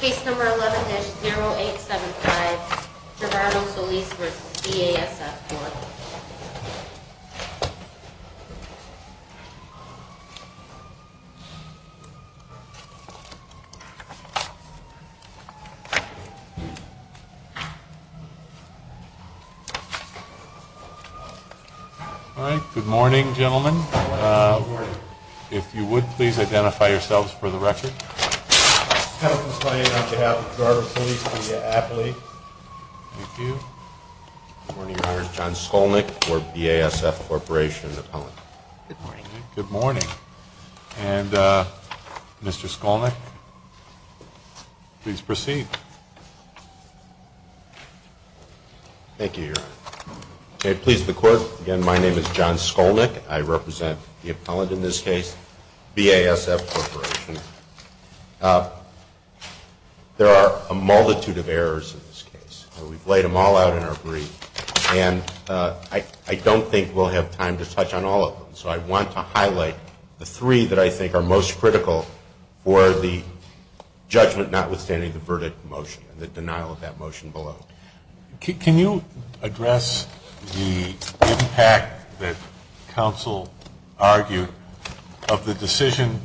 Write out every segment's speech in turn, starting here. Case number 11-0875, Gerardo Solis v. BASF Corporation Good morning gentlemen. If you would please identify yourselves for the record. I have been signing up to help Gerardo Solis be an athlete. Thank you. Your name is John Skolnick, BASF Corporation. Good morning. And Mr. Skolnick, please proceed. Thank you, Your Honor. If it pleases the Court, again, my name is John Skolnick. I represent the appellant in this case, BASF Corporation. There are a multitude of errors in this case. We've laid them all out in our brief, and I don't think we'll have time to touch on all of them. So I want to highlight the three that I think are most critical for the judgment notwithstanding the verdict motion, the denial of that motion below. Can you address the impact that counsel argued of the decision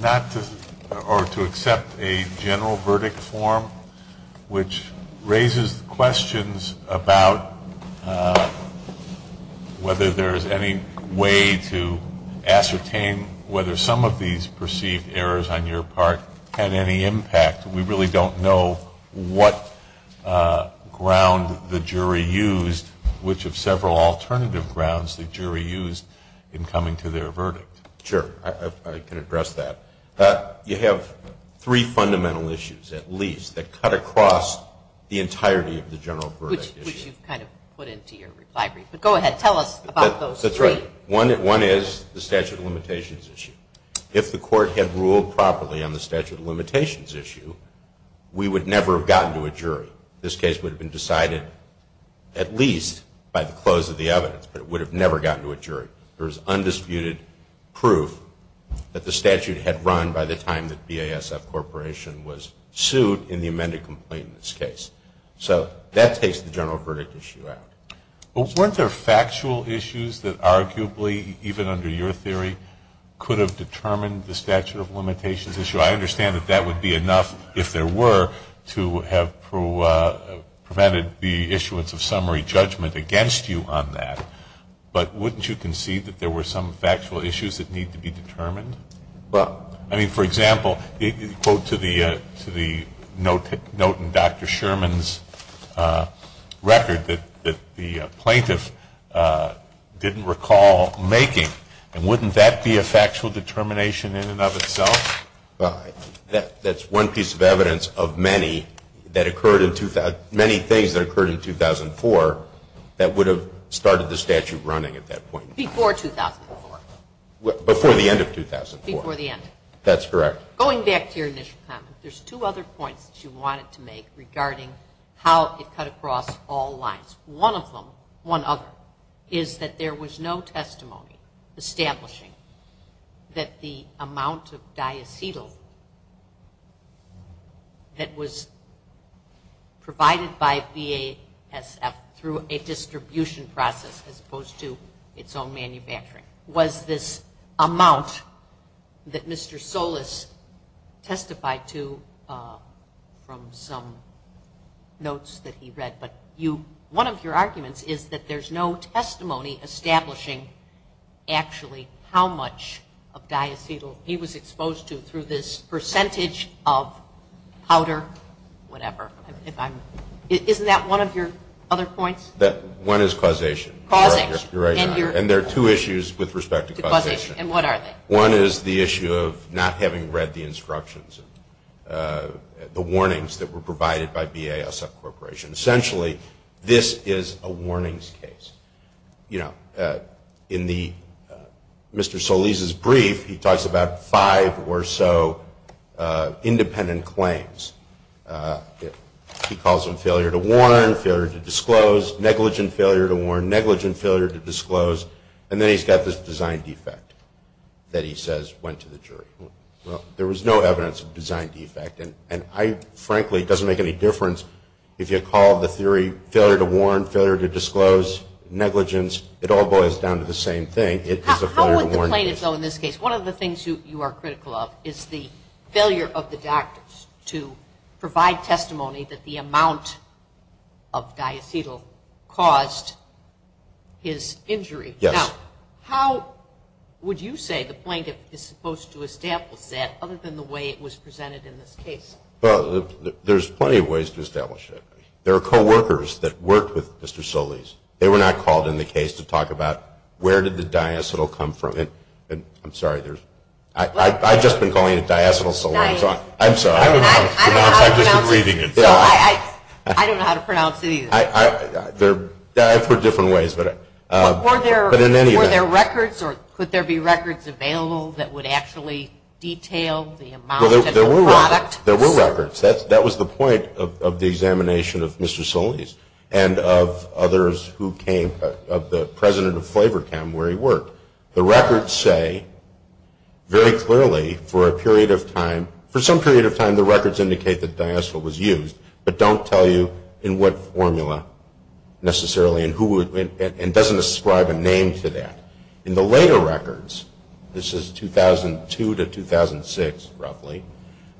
not to or to accept a general verdict form, which raises questions about whether there is any way to ascertain whether some of these perceived errors on your part had any impact? We really don't know what ground the jury used, which of several alternative grounds the jury used in coming to their verdict. Sure. I can address that. You have three fundamental issues, at least, that cut across the entirety of the general verdict. Which you've kind of put into your recidivism. Go ahead. Tell us about those three. That's right. One is the statute of limitations issue. If the court had ruled properly on the statute of limitations issue, we would never have gotten to a jury. This case would have been decided at least by the close of the evidence, but it would have never gotten to a jury. There's undisputed proof that the statute had run by the time the BASF Corporation was sued in the amended complaint in this case. So that takes the general verdict issue out. Weren't there factual issues that arguably, even under your theory, could have determined the statute of limitations issue? I understand that that would be enough, if there were, to have prevented the issuance of summary judgment against you on that. But wouldn't you concede that there were some factual issues that need to be determined? I mean, for example, the quote to the note in Dr. Sherman's record that the plaintiff didn't recall making, and wouldn't that be a factual determination in and of itself? That's one piece of evidence of many things that occurred in 2004 that would have started the statute running at that point. Before 2004. Before the end of 2004. Before the end. That's correct. Going back to your initial comment, there's two other points that you wanted to make regarding how it cut across all lines. One of them, one other, is that there was no testimony establishing that the amount of diacetyl that was provided by BASF through a distribution process as opposed to its own manufacturing, was this amount that Mr. Solis testified to from some notes that he read. But one of your arguments is that there's no testimony establishing actually how much of diacetyl he was exposed to Isn't that one of your other points? One is causation. And there are two issues with respect to causation. And what are they? One is the issue of not having read the instructions, the warnings that were provided by BASF Corporation. Essentially, this is a warnings case. In Mr. Solis' brief, he talks about five or so independent claims. He calls them failure to warn, failure to disclose, negligent failure to warn, negligent failure to disclose. And then he's got this design defect that he says went to the jury. There was no evidence of design defect. And frankly, it doesn't make any difference if you call the theory failure to warn, failure to disclose, negligence. It all boils down to the same thing. How would the plaintiff go in this case? One of the things you are critical of is the failure of the doctors to provide testimony that the amount of diacetyl caused his injury. Now, how would you say the plaintiff is supposed to establish that other than the way it was presented in this case? Well, there's plenty of ways to establish it. There are coworkers that worked with Mr. Solis. They were not called in the case to talk about where did the diacetyl come from. I'm sorry. I've just been calling it diacetyl solution. I'm sorry. I'm just reading it. I don't know how to pronounce it either. I put it different ways. Were there records or could there be records available that would actually detail the amount of the product? There were records. That was the point of the examination of Mr. Solis and of others who came, of the president of Flavor Cam where he worked. The records say very clearly for a period of time, for some period of time the records indicate that diacetyl was used, but don't tell you in what formula necessarily and doesn't ascribe a name to that. In the later records, this is 2002 to 2006 roughly,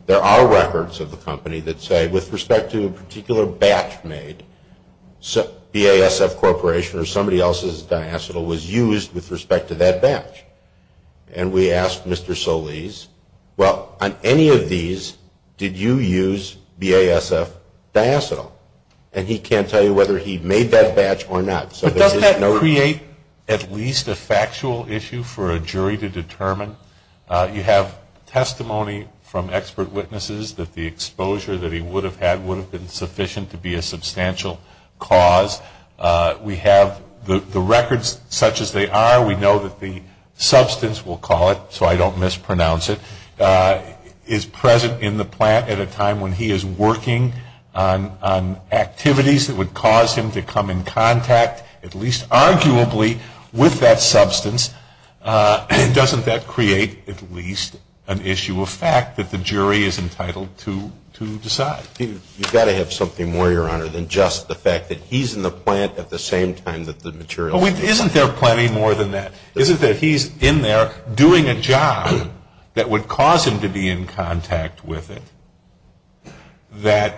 there are records of the company that say with respect to a particular batch made, BASF Corporation or somebody else's diacetyl was used with respect to that batch. And we asked Mr. Solis, well, on any of these, did you use BASF diacetyl? And he can't tell you whether he made that batch or not. Does that create at least a factual issue for a jury to determine? You have testimony from expert witnesses that the exposure that he would have had would have been sufficient to be a substantial cause. We have the records such as they are. We know that the substance, we'll call it so I don't mispronounce it, is present in the plant at a time when he is working on activities that would cause him to come in contact, at least arguably, with that substance. Doesn't that create at least an issue of fact that the jury is entitled to decide? You've got to have something more, Your Honor, than just the fact that he's in the plant at the same time that the material is. Well, isn't there plenty more than that? Isn't it that he's in there doing a job that would cause him to be in contact with it, that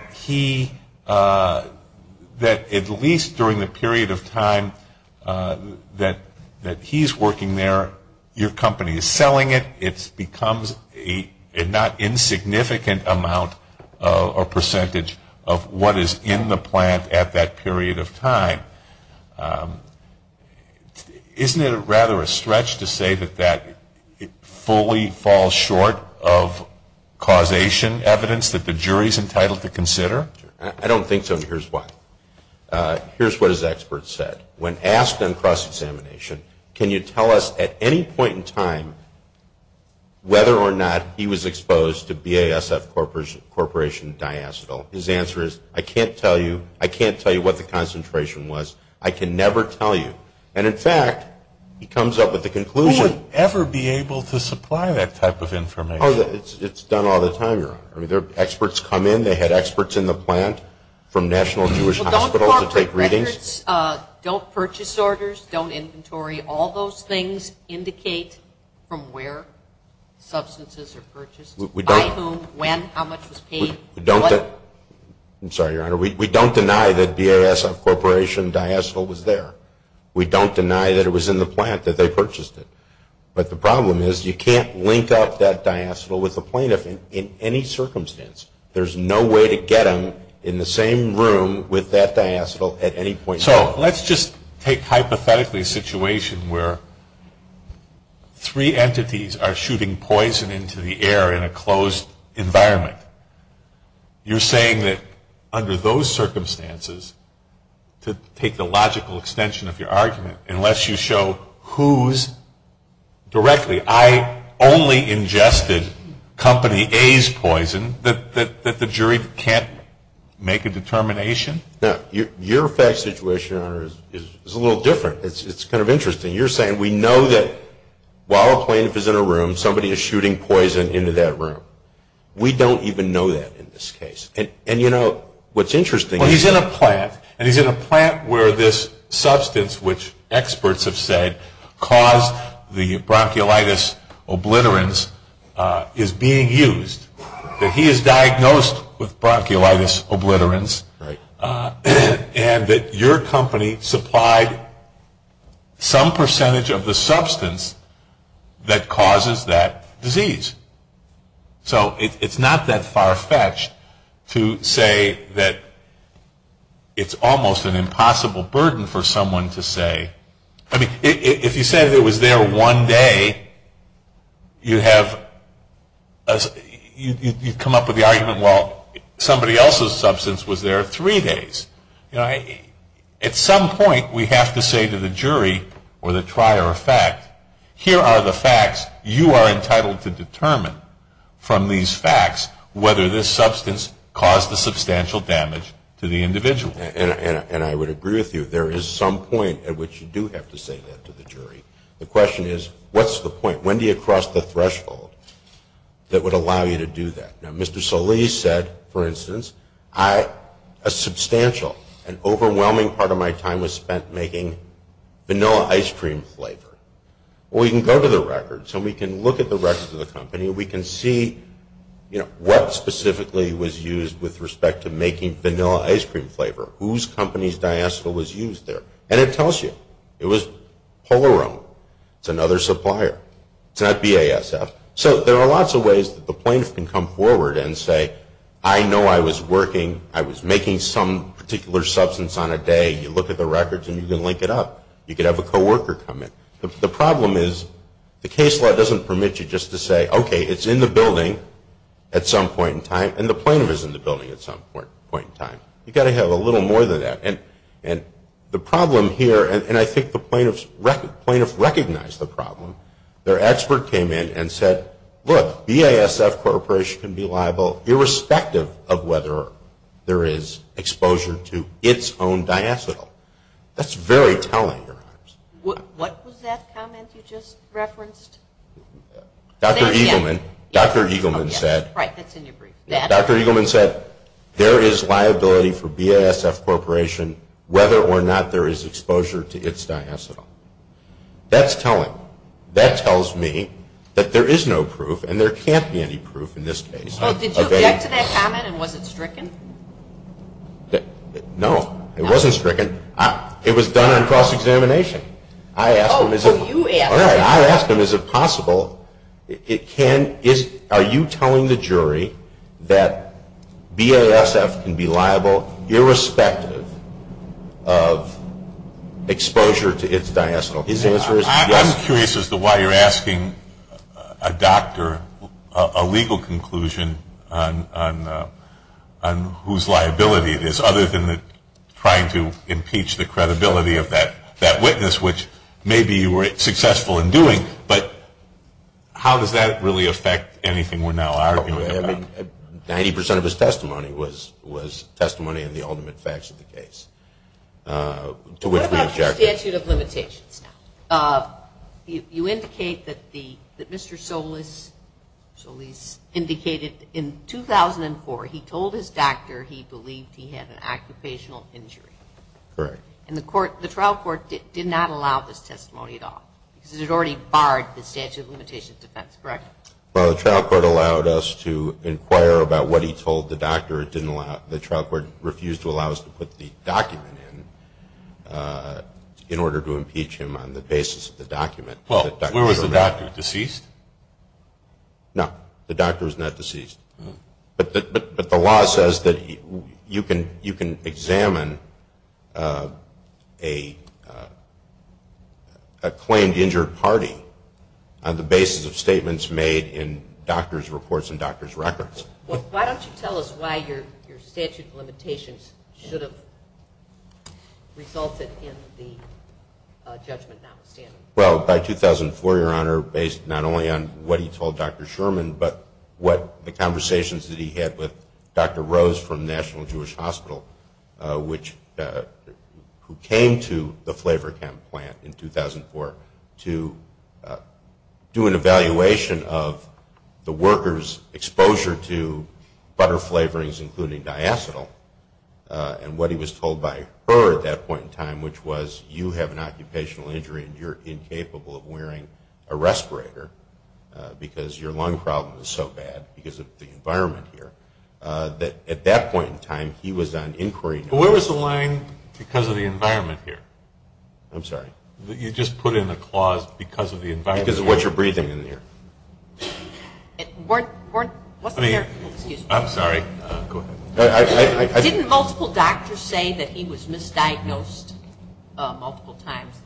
at least during the period of time that he's working there, your company is selling it, it becomes a not insignificant amount or percentage of what is in the plant at that period of time. Isn't it rather a stretch to say that that fully falls short of causation evidence that the jury is entitled to consider? I don't think so, and here's why. Here's what his expert said. When asked on cross-examination, can you tell us at any point in time whether or not he was exposed to BASF Corporation diastole? His answer is, I can't tell you. I can't tell you what the concentration was. I can never tell you. And, in fact, he comes up with the conclusion. Who would ever be able to supply that type of information? It's done all the time, Your Honor. Experts come in. They had experts in the plant from National Jewish Hospital to take readings. Don't purchase orders, don't inventory. All those things indicate from where substances are purchased, by whom, when, how much was paid. I'm sorry, Your Honor. We don't deny that BASF Corporation diastole was there. We don't deny that it was in the plant that they purchased it. But the problem is you can't link up that diastole with the plaintiff in any circumstance. There's no way to get him in the same room with that diastole at any point in time. So let's just take hypothetically a situation where three entities are shooting poison into the air in a closed environment. You're saying that under those circumstances, to take the logical extension of your argument, unless you show who's directly, I only ingested Company A's poison, that the jury can't make a determination? Your fact situation, Your Honor, is a little different. It's kind of interesting. You're saying we know that while a plaintiff is in a room, somebody is shooting poison into that room. We don't even know that in this case. And you know what's interesting? Well, he's in a plant, and he's in a plant where this substance, which experts have said caused the bronchiolitis obliterans, is being used. He is diagnosed with bronchiolitis obliterans. And your company supplied some percentage of the substance that causes that disease. So it's not that far-fetched to say that it's almost an impossible burden for someone to say. I mean, if you said it was there one day, you come up with the argument, well, somebody else's substance was there three days. At some point, we have to say to the jury or the trier of fact, here are the facts you are entitled to determine from these facts whether this substance caused a substantial damage to the individual. And I would agree with you. There is some point at which you do have to say that to the jury. The question is, what's the point? When do you cross the threshold that would allow you to do that? Now, Mr. Solis said, for instance, a substantial and overwhelming part of my time was spent making vanilla ice cream flavor. Well, we can go to the record, so we can look at the rest of the company, and we can see what specifically was used with respect to making vanilla ice cream flavor. Whose company's diastole was used there? And it tells you. It was Polaroom. It's another supplier. It's not BASF. So there are lots of ways that the plaintiff can come forward and say, I know I was working, I was making some particular substance on a day. You look at the records, and you can link it up. You could have a co-worker come in. The problem is the case law doesn't permit you just to say, okay, it's in the building at some point in time, and the plaintiff is in the building at some point in time. You've got to have a little more than that. And the problem here, and I think the plaintiff recognized the problem. Their expert came in and said, look, BASF Corporation can be liable irrespective of whether there is exposure to its own diastole. That's very telling. What was that comment you just referenced? Dr. Eagleman said there is liability for BASF Corporation whether or not there is exposure to its diastole. That's telling. That tells me that there is no proof, and there can't be any proof in this case. Did you object to that comment and was it stricken? No, it wasn't stricken. It was done in cross-examination. Oh, you asked. I asked him is it possible, are you telling the jury that BASF can be liable irrespective of exposure to its diastole. His answer is yes. I'm curious as to why you're asking a doctor a legal conclusion on whose liability it is, other than trying to impeach the credibility of that witness, which maybe you were successful in doing, but how does that really affect anything we're now arguing? Ninety percent of his testimony was testimony in the ultimate facts of the case. What about the statute of limitations? You indicate that Mr. Solis indicated in 2004 he told his doctor he believed he had an occupational injury. Correct. And the trial court did not allow this testimony at all. It had already barred the statute of limitations defense. Correct. Well, the trial court allowed us to inquire about what he told the doctor. The trial court refused to allow us to put the document in in order to impeach him on the basis of the document. Well, was the doctor deceased? No, the doctor was not deceased. But the law says that you can examine a claimed injured party on the basis of statements made in doctor's reports and doctor's records. Why don't you tell us why your statute of limitations should have resulted in the judgment not standing? Well, by 2004, Your Honor, based not only on what he told Dr. Sherman, but what the conversations that he had with Dr. Rose from National Jewish Hospital, who came to the flavor plant in 2004 to do an evaluation of the worker's exposure to butter flavorings, including diacetyl, and what he was told by her at that point in time, which was, you have an occupational injury and you're incapable of wearing a respirator because your lung problem is so bad because of the environment here. At that point in time, he was on inquiry. Where was the line, because of the environment here? I'm sorry? You just put in the clause, because of the environment here. Because of what you're breathing in the air. Warren, what's your question? I'm sorry. Didn't multiple doctors say that he was misdiagnosed multiple times?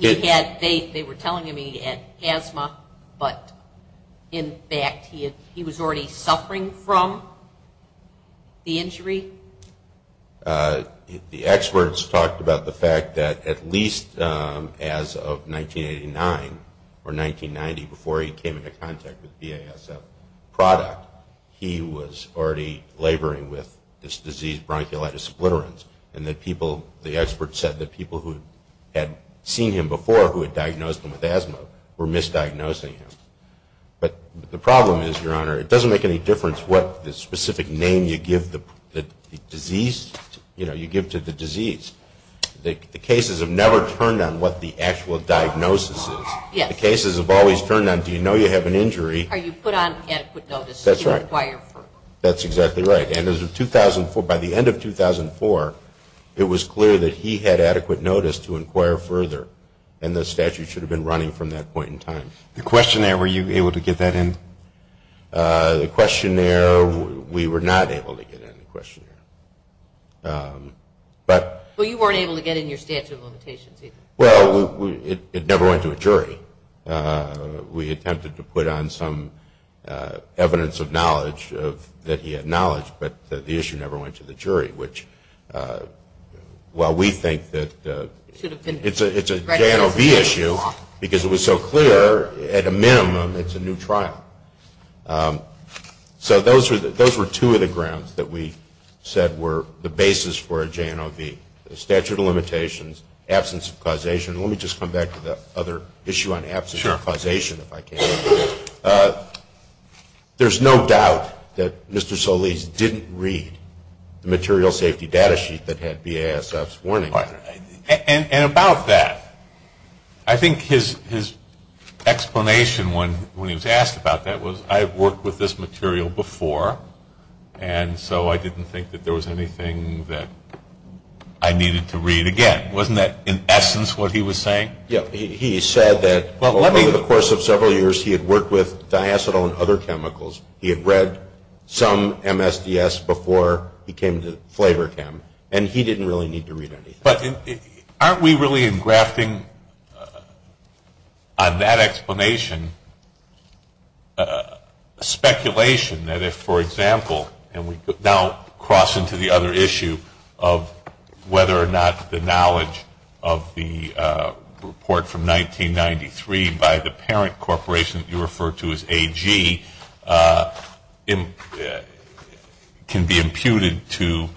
They were telling him he had asthma, but, in fact, he was already suffering from the injury? The experts talked about the fact that, at least as of 1989 or 1990, before he came into contact with BASF product, he was already laboring with this disease, bronchiolitis splitterans, and the experts said that people who had seen him before, who had diagnosed him with asthma, were misdiagnosing him. The problem is, Your Honor, it doesn't make any difference what specific name you give to the disease. The cases have never turned on what the actual diagnosis is. The cases have always turned on, do you know you have an injury? Are you put on adequate notice to inquire further? That's exactly right. By the end of 2004, it was clear that he had adequate notice to inquire further, and the statute should have been running from that point in time. The questionnaire, were you able to get that in? The questionnaire, we were not able to get in the questionnaire. So you weren't able to get in your statute of limitations either? Well, it never went to a jury. We attempted to put on some evidence of knowledge that he had knowledge, but the issue never went to the jury, which, while we think that it's a J&OB issue, because it was so clear, at a minimum, it's a new trial. So those were two of the grounds that we said were the basis for a J&OB, the statute of limitations, absence of causation. Let me just come back to the other issue on absence of causation, if I can. There's no doubt that Mr. Solis didn't read the material safety data sheet that had BASF's warnings on it. And about that, I think his explanation when he was asked about that was, I've worked with this material before, and so I didn't think that there was anything that I needed to read again. Wasn't that, in essence, what he was saying? He said that over the course of several years he had worked with diacetyl and other chemicals. He had read some MSDS before he came to Flavor Chem, and he didn't really need to read anything. But aren't we really engrafting on that explanation a speculation that if, for example, and we now cross into the other issue of whether or not the knowledge of the report from 1993 by the parent corporation that you referred to as AG can be imputed to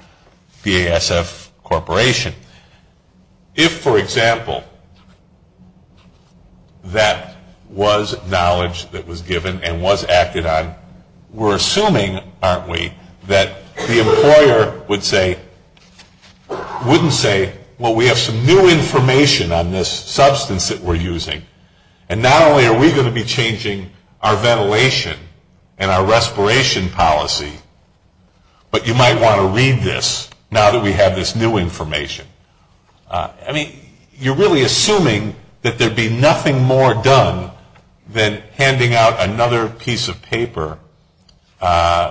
BASF Corporation. If, for example, that was knowledge that was given and was acted on, we're assuming, aren't we, that the employer wouldn't say, well, we have some new information on this substance that we're using, and not only are we going to be changing our ventilation and our respiration policy, but you might want to read this now that we have this new information. I mean, you're really assuming that there'd be nothing more done than handing out another piece of paper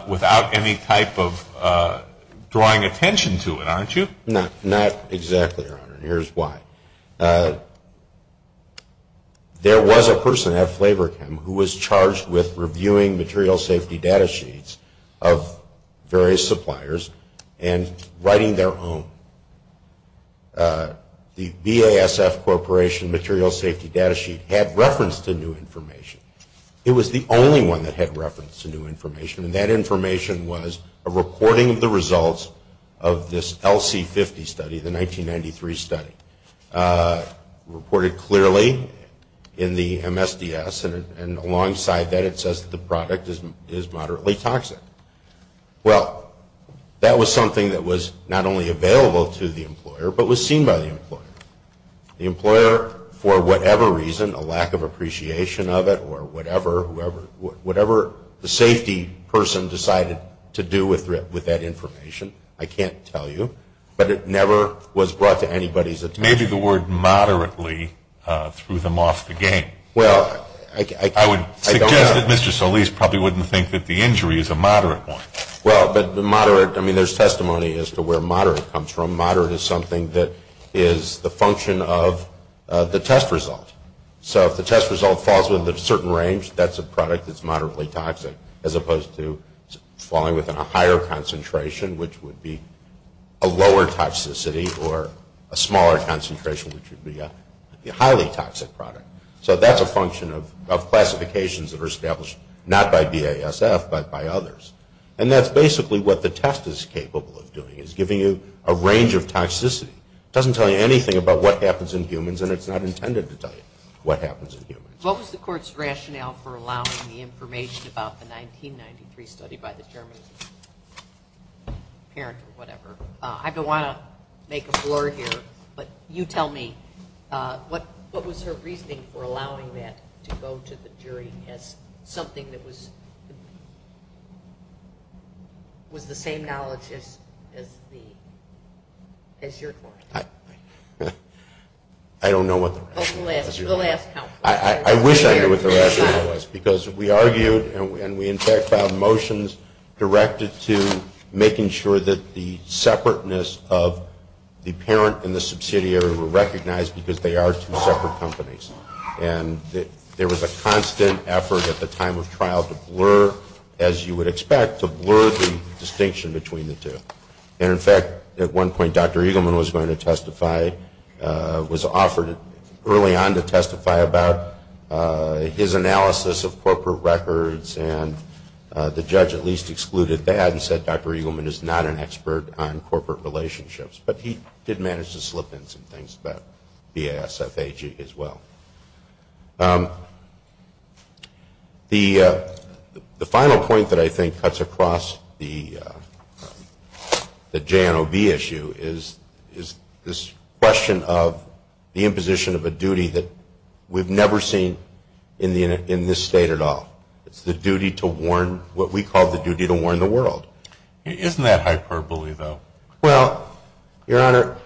without any type of drawing attention to it, aren't you? No, not exactly, Your Honor, and here's why. There was a person at Flavor Chem who was charged with reviewing material safety data sheets of various suppliers and writing their own. The BASF Corporation material safety data sheet had reference to new information. It was the only one that had reference to new information, and that information was a reporting of the results of this LC50 study, the 1993 study, reported clearly in the MSDS, and alongside that it says the product is moderately toxic. Well, that was something that was not only available to the employer, but was seen by the employer. The employer, for whatever reason, a lack of appreciation of it or whatever, whatever the safety person decided to do with that information, I can't tell you, but it never was brought to anybody's attention. Maybe the word moderately threw them off the game. Well, I don't know. Mr. Solis probably wouldn't think that the injury is a moderate one. Well, but the moderate, I mean, there's testimony as to where moderate comes from. The term moderate is something that is the function of the test result. So if the test result falls within a certain range, that's a product that's moderately toxic, as opposed to falling within a higher concentration, which would be a lower toxicity, or a smaller concentration, which would be a highly toxic product. So that's a function of classifications that are established not by BASF, but by others. And that's basically what the test is capable of doing, is giving you a range of toxicity. It doesn't tell you anything about what happens in humans, and it's not intended to tell you what happens in humans. What was the court's rationale for allowing the information about the 1993 study by the German? I don't want to make a floor here, but you tell me. What was her briefing for allowing that to go to the jury as something that was the same knowledge as your court? I don't know what the question was. I wish I knew what the rationale was, because we argued, and we in fact filed motions directed to making sure that the separateness of the parent and the subsidiary were recognized because they are two separate companies. And there was a constant effort at the time of trial to blur, as you would expect, to blur the distinction between the two. And in fact, at one point Dr. Eagleman was going to testify, was offered early on to testify about his analysis of corporate records, and the judge at least excluded that and said Dr. Eagleman is not an expert on corporate relationships. But he did manage to slip in some things about BASFAG as well. The final point that I think cuts across the JNOB issue is this question of the imposition of a duty that we've never seen in this state at all. It's the duty to warn, what we call the duty to warn the world. Isn't that hyperbole though? Well, Your Honor,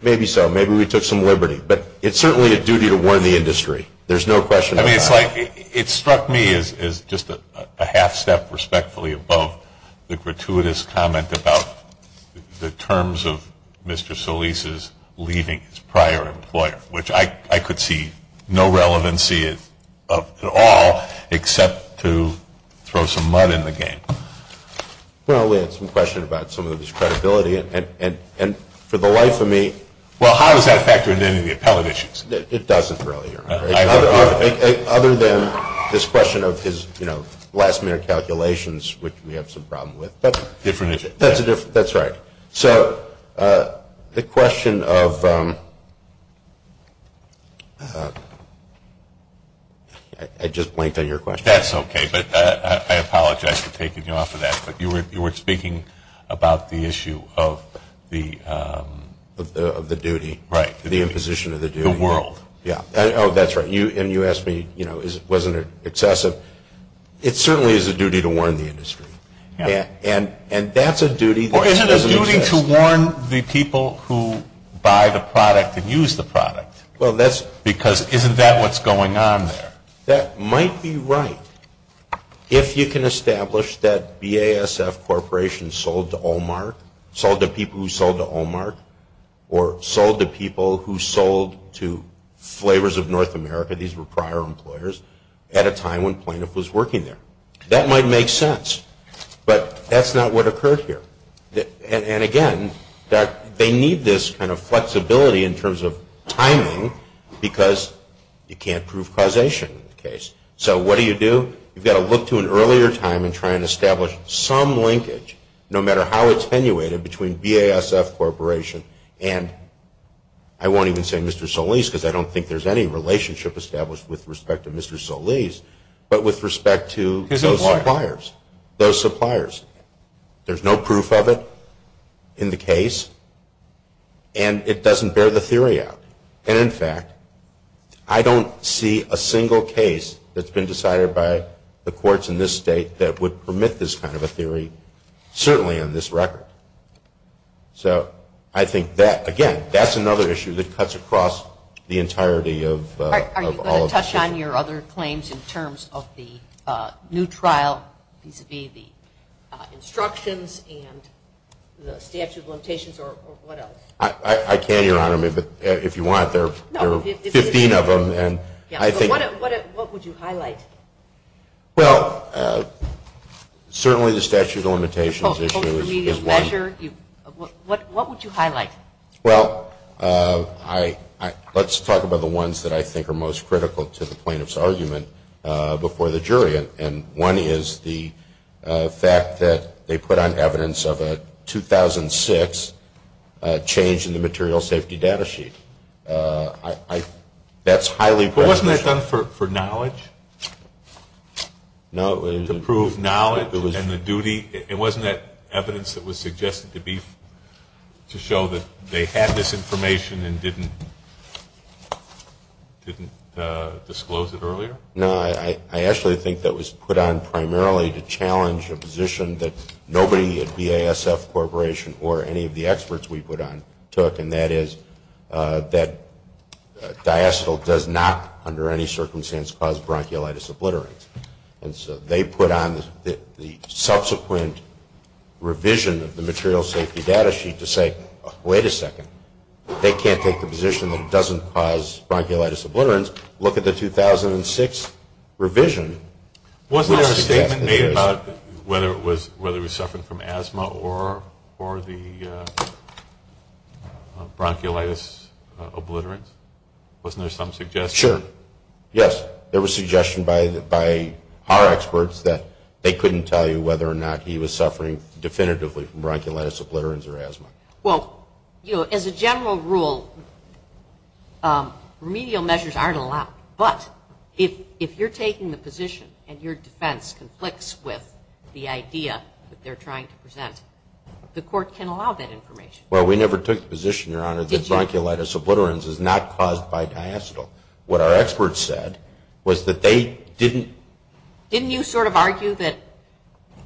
maybe so. Maybe we took some liberty. But it's certainly a duty to warn the industry. There's no question about that. It struck me as just a half step respectfully above the gratuitous comment about the terms of Mr. Solis' leaving his prior employer, which I could see no relevancy at all except to throw some mud in the game. Well, we have some questions about some of this credibility. And for the life of me... Well, how does that factor into any of the appellate issues? It doesn't, Your Honor. Other than this question of his last minute calculations, which we have some problem with. Different issues. That's right. All right. So the question of... I just blanked on your question. That's okay. But I apologize for taking you off of that. But you were speaking about the issue of the... Of the duty. Right. The imposition of the duty. The world. Yeah. Oh, that's right. And you asked me, you know, was it excessive? It certainly is a duty to warn the industry. And that's a duty... Or is it a duty to warn the people who buy the product and use the product? Well, that's because... Isn't that what's going on there? That might be right. If you can establish that BASF Corporation sold to Olmert, sold to people who sold to Olmert, or sold to people who sold to Flavors of North America, these were prior employers, at a time when Plaintiff was working there. That might make sense. But that's not what occurs here. And again, they need this kind of flexibility in terms of timing because you can't prove causation in this case. So what do you do? You've got to look to an earlier time and try and establish some linkage, no matter how attenuated, between BASF Corporation and... I won't even say Mr. Solis because I don't think there's any relationship established with respect to Mr. Solis, but with respect to those suppliers. There's no proof of it in the case, and it doesn't bear the theory out. And in fact, I don't see a single case that's been decided by the courts in this state that would permit this kind of a theory, certainly on this record. So I think that, again, that's another issue that cuts across the entirety of all of this. All right. Are you going to touch on your other claims in terms of the new trial, these would be the instructions and the statute of limitations or what else? I can, Your Honor, but if you want, there are 15 of them. What would you highlight? Well, certainly the statute of limitations issue is one. What would you highlight? Well, let's talk about the ones that I think are most critical to the plaintiff's argument before the jury, and one is the fact that they put on evidence of a 2006 change in the material safety data sheet. That's highly... But wasn't that done for knowledge? No, it was... They had this information and didn't disclose it earlier? No, I actually think that was put on primarily to challenge a position that nobody at BASF Corporation or any of the experts we put on took, and that is that diastole does not, under any circumstance, cause bronchiolitis obliterates. And so they put on the subsequent revision of the material safety data sheet to say, wait a second, they can't take the position that it doesn't cause bronchiolitis obliterates. Look at the 2006 revision. Wasn't there a statement made about whether it was something from asthma or the bronchiolitis obliterates? Wasn't there some suggestion? Sure. Yes, there was suggestion by our experts that they couldn't tell you whether or not he was suffering definitively from bronchiolitis obliterates or asthma. Well, as a general rule, remedial measures aren't allowed, but if you're taking the position and your defense conflicts with the idea that they're trying to present, the court can allow that information. Well, we never took the position, Your Honor, that bronchiolitis obliterates is not caused by diastole. What our experts said was that they didn't... Didn't you sort of argue that,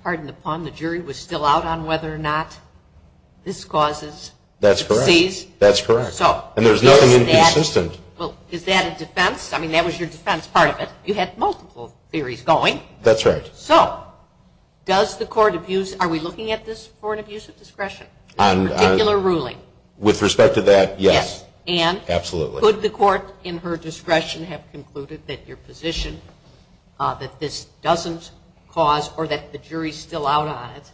pardon the pun, the jury was still out on whether or not this causes... That's correct. ...disease? That's correct. And there's nothing inconsistent. Well, is that a defense? I mean, that was your defense part of it. You had multiple theories going. That's right. So, does the court abuse... Are we looking at this court abuse of discretion? On... Particular ruling? With respect to that, yes. Yes. And... Absolutely. ...could the court in her discretion have concluded that your position, that this doesn't cause or that the jury's still out on it,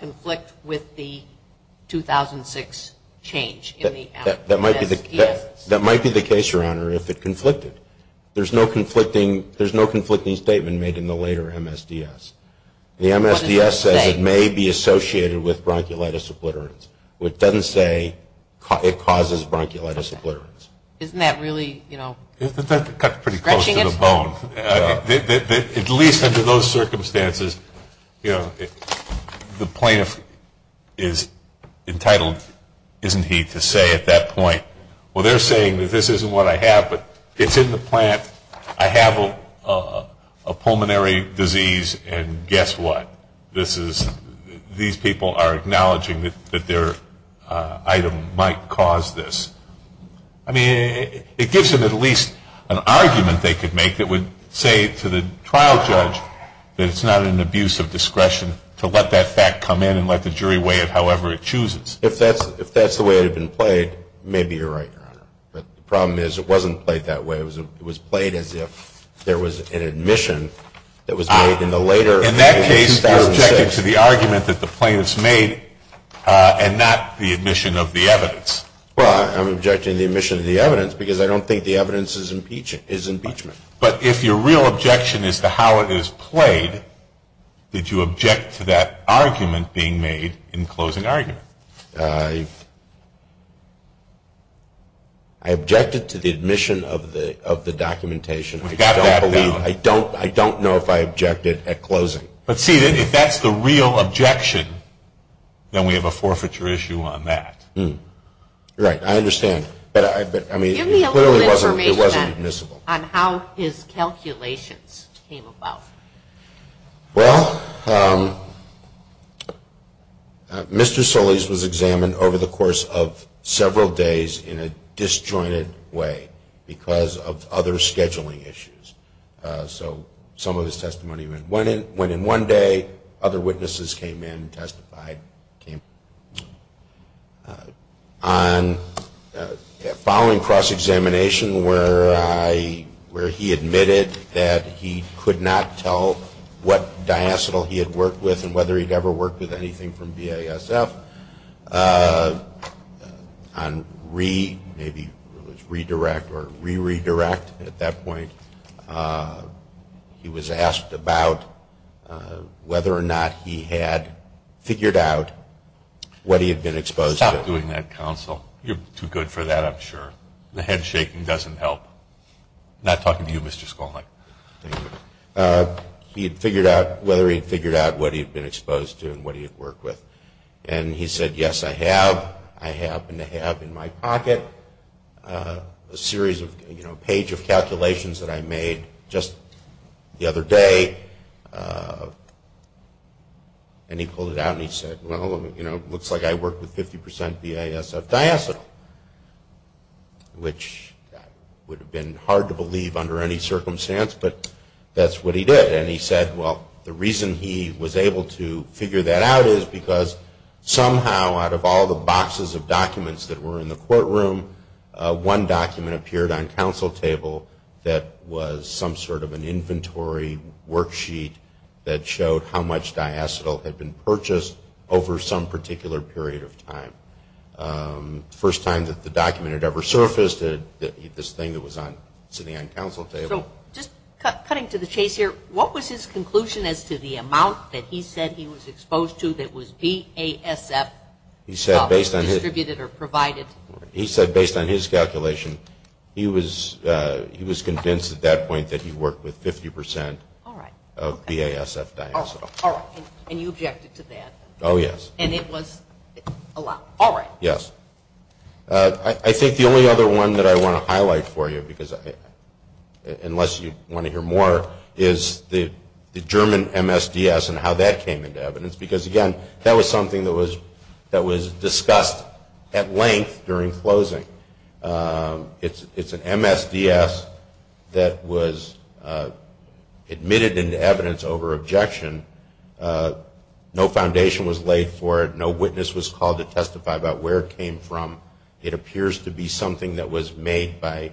conflict with the 2006 change in the... That might be the case, Your Honor, if it conflicted. There's no conflicting statement made in the later MSDS. The MSDS says it may be associated with bronchiolitis obliterans. It doesn't say it causes bronchiolitis obliterans. Isn't that really, you know... That's pretty close to the bone. At least under those circumstances, you know, the plaintiff is entitled, isn't he, to say at that point, Well, they're saying that this isn't what I have, but it's in the plant. I have a pulmonary disease, and guess what? This is... These people are acknowledging that their item might cause this. I mean, it gives them at least an argument they could make that would say to the trial judge that it's not an abuse of discretion to let that fact come in and let the jury weigh it however it chooses. If that's the way it had been played, maybe you're right, Your Honor. The problem is it wasn't played that way. It was played as if there was an admission that was made in the later MSDS. In that case, you're objecting to the argument that the plaintiff's made and not the admission of the evidence. Well, I'm objecting to the admission of the evidence because I don't think the evidence is impeachment. But if your real objection is to how it is played, did you object to that argument being made in closing argument? I objected to the admission of the documentation. I don't know if I objected at closing. But see, if that's the real objection, then we have a forfeiture issue on that. You're right. I understand. Give me a little information on how his calculations came about. Well, Mr. Solis was examined over the course of several days in a disjointed way because of other scheduling issues. So some of his testimony went in one day. Other witnesses came in and testified. On the following cross-examination where he admitted that he could not tell what diacetyl he had worked with and whether he'd ever worked with anything from BASF, on re- maybe redirect or re-redirect at that point, he was asked about whether or not he had figured out what he had been exposed to. Stop doing that, counsel. You're too good for that, I'm sure. The head shaking doesn't help. I'm not talking to you, Mr. Skolnik. He had figured out whether he had figured out what he had been exposed to and what he had worked with. And he said, yes, I have. I happen to have in my pocket a series of, you know, a page of calculations that I made just the other day. And he pulled it out and he said, well, you know, it looks like I worked with 50% BASF diacetyl, which would have been hard to believe under any circumstance, but that's what he did. And he said, well, the reason he was able to figure that out is because somehow out of all the boxes of documents that were in the courtroom, one document appeared on counsel table that was some sort of an inventory worksheet that showed how much diacetyl had been purchased over some particular period of time. First time that the document had ever surfaced, this thing that was sitting on counsel table. So just cutting to the chase here, what was his conclusion as to the amount that he said he was exposed to that was BASF distributed or provided? He said based on his calculation, he was convinced at that point that he worked with 50% of BASF diacetyl. And you objected to that? Oh, yes. And it was a lie. Yes. I think the only other one that I want to highlight for you, unless you want to hear more, is the German MSDS and how that came into evidence. Because, again, that was something that was discussed at length during closing. It's an MSDS that was admitted into evidence over objection. No foundation was laid for it. No witness was called to testify about where it came from. It appears to be something that was made by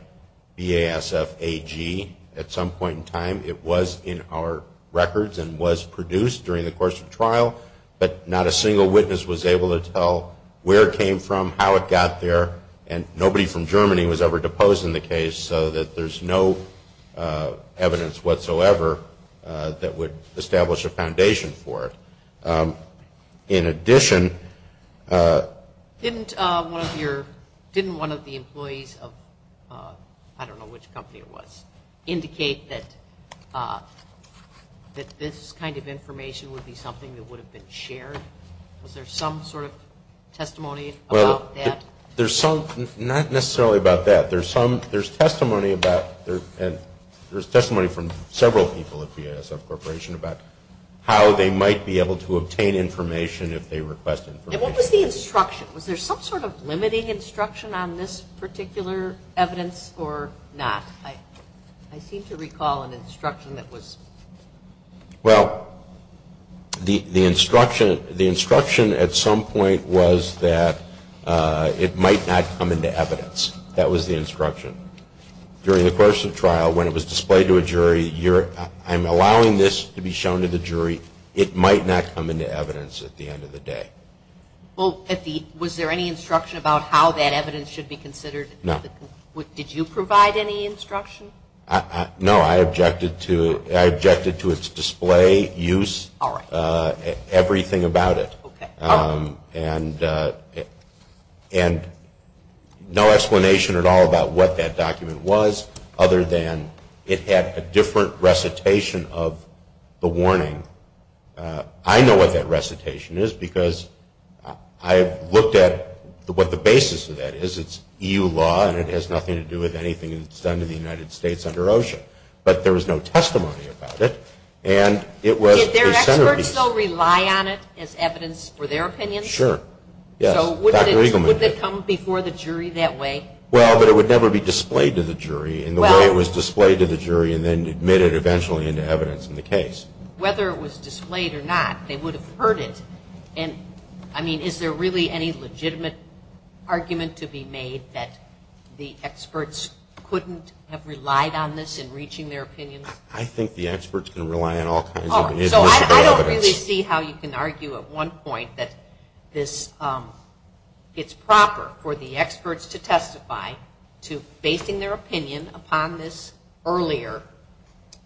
BASF AG at some point in time. It was in our records and was produced during the course of trial, but not a single witness was able to tell where it came from, how it got there, and nobody from Germany was ever deposed in the case. So there's no evidence whatsoever that would establish a foundation for it. In addition... Didn't one of the employees of, I don't know which company it was, indicate that this kind of information would be something that would have been shared? Was there some sort of testimony about that? Not necessarily about that. There's testimony from several people at BASF Corporation about how they might be able to obtain information if they request information. And what was the instruction? Was there some sort of limiting instruction on this particular evidence or not? I seem to recall an instruction that was... Well, the instruction at some point was that it might not come into evidence. That was the instruction. I'm allowing this to be shown to the jury. It might not come into evidence at the end of the day. Was there any instruction about how that evidence should be considered? No. Did you provide any instruction? No. I objected to its display, use, everything about it. And no explanation at all about what that document was, other than it had a different recitation of the warning. I know what that recitation is because I've looked at what the basis of that is. It's EU law and it has nothing to do with anything that's done to the United States under OSHA. But there was no testimony about it. Did their experts still rely on it as evidence for their opinion? Sure. So would it come before the jury that way? Well, but it would never be displayed to the jury in the way it was displayed to the jury and then admitted eventually into evidence in the case. Whether it was displayed or not, they would have heard it. And, I mean, is there really any legitimate argument to be made that the experts couldn't have relied on this in reaching their opinion? I think the experts can rely on all kinds of evidence. So I don't really see how you can argue at one point that it's proper for the experts to testify to basing their opinion upon this earlier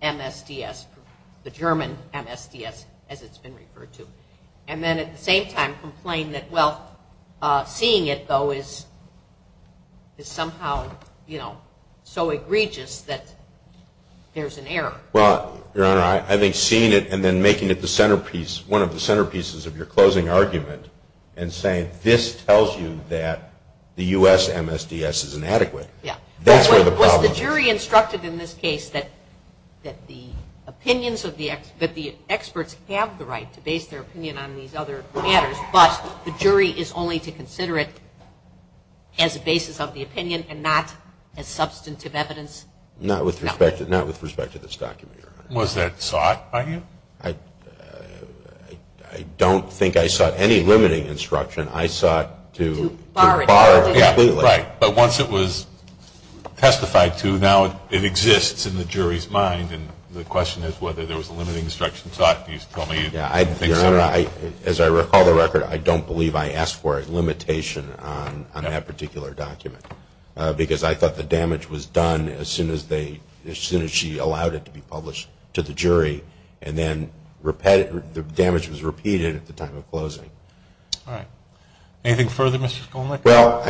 MSDS, the German MSDS, as it's been referred to, and then at the same time complain that, well, seeing it, though, is somehow, you know, so egregious that there's an error. Well, Your Honor, I think seeing it and then making it the centerpiece, one of the centerpieces of your closing argument and saying this tells you that the U.S. MSDS is inadequate. Yeah. That's where the problem is. Well, the jury instructed in this case that the opinions of the experts, that the experts have the right to base their opinion on these other matters, but the jury is only to consider it as a basis of the opinion and not as substantive evidence? Not with respect to this document. Was that sought by you? I don't think I sought any limiting instruction. I sought to borrow it completely. Right. But once it was testified to, now it exists in the jury's mind, and the question is whether there was a limiting instruction sought. Your Honor, as I recall the record, I don't believe I asked for a limitation on that particular document because I thought the damage was done as soon as she allowed it to be published to the jury, and then the damage was repeated at the time of closing. All right. Anything further, Mr. Skolnik? Well,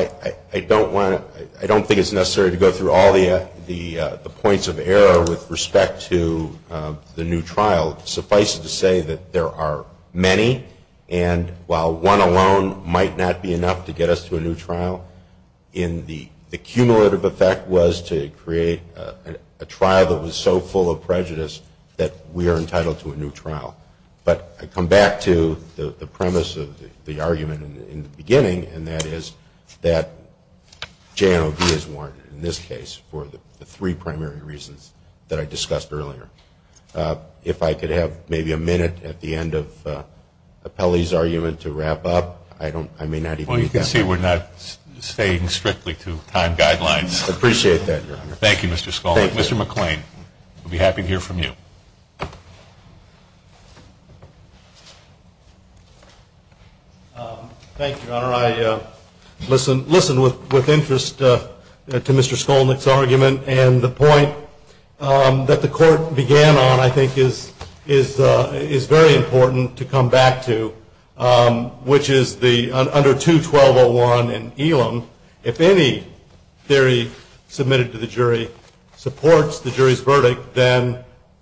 I don't think it's necessary to go through all the points of error with respect to the new trial. Suffice it to say that there are many, and while one alone might not be enough to get us to a new trial, the cumulative effect was to create a trial that was so full of prejudice that we are entitled to a new trial. But I come back to the premise of the argument in the beginning, and that is that J&OB is warranted in this case for the three primary reasons that I discussed earlier. If I could have maybe a minute at the end of Appelli's argument to wrap up, I may not even be able to do that. Well, you can see we're not staying strictly to time guidelines. I appreciate that, Your Honor. Thank you, Mr. Skolnik. Thank you. Mr. McClain, I'd be happy to hear from you. Thank you, Your Honor. I listened with interest to Mr. Skolnik's argument, and the point that the court began on I think is very important to come back to, which is under 2-1201 in Elam, if any theory submitted to the jury supports the jury's verdict, then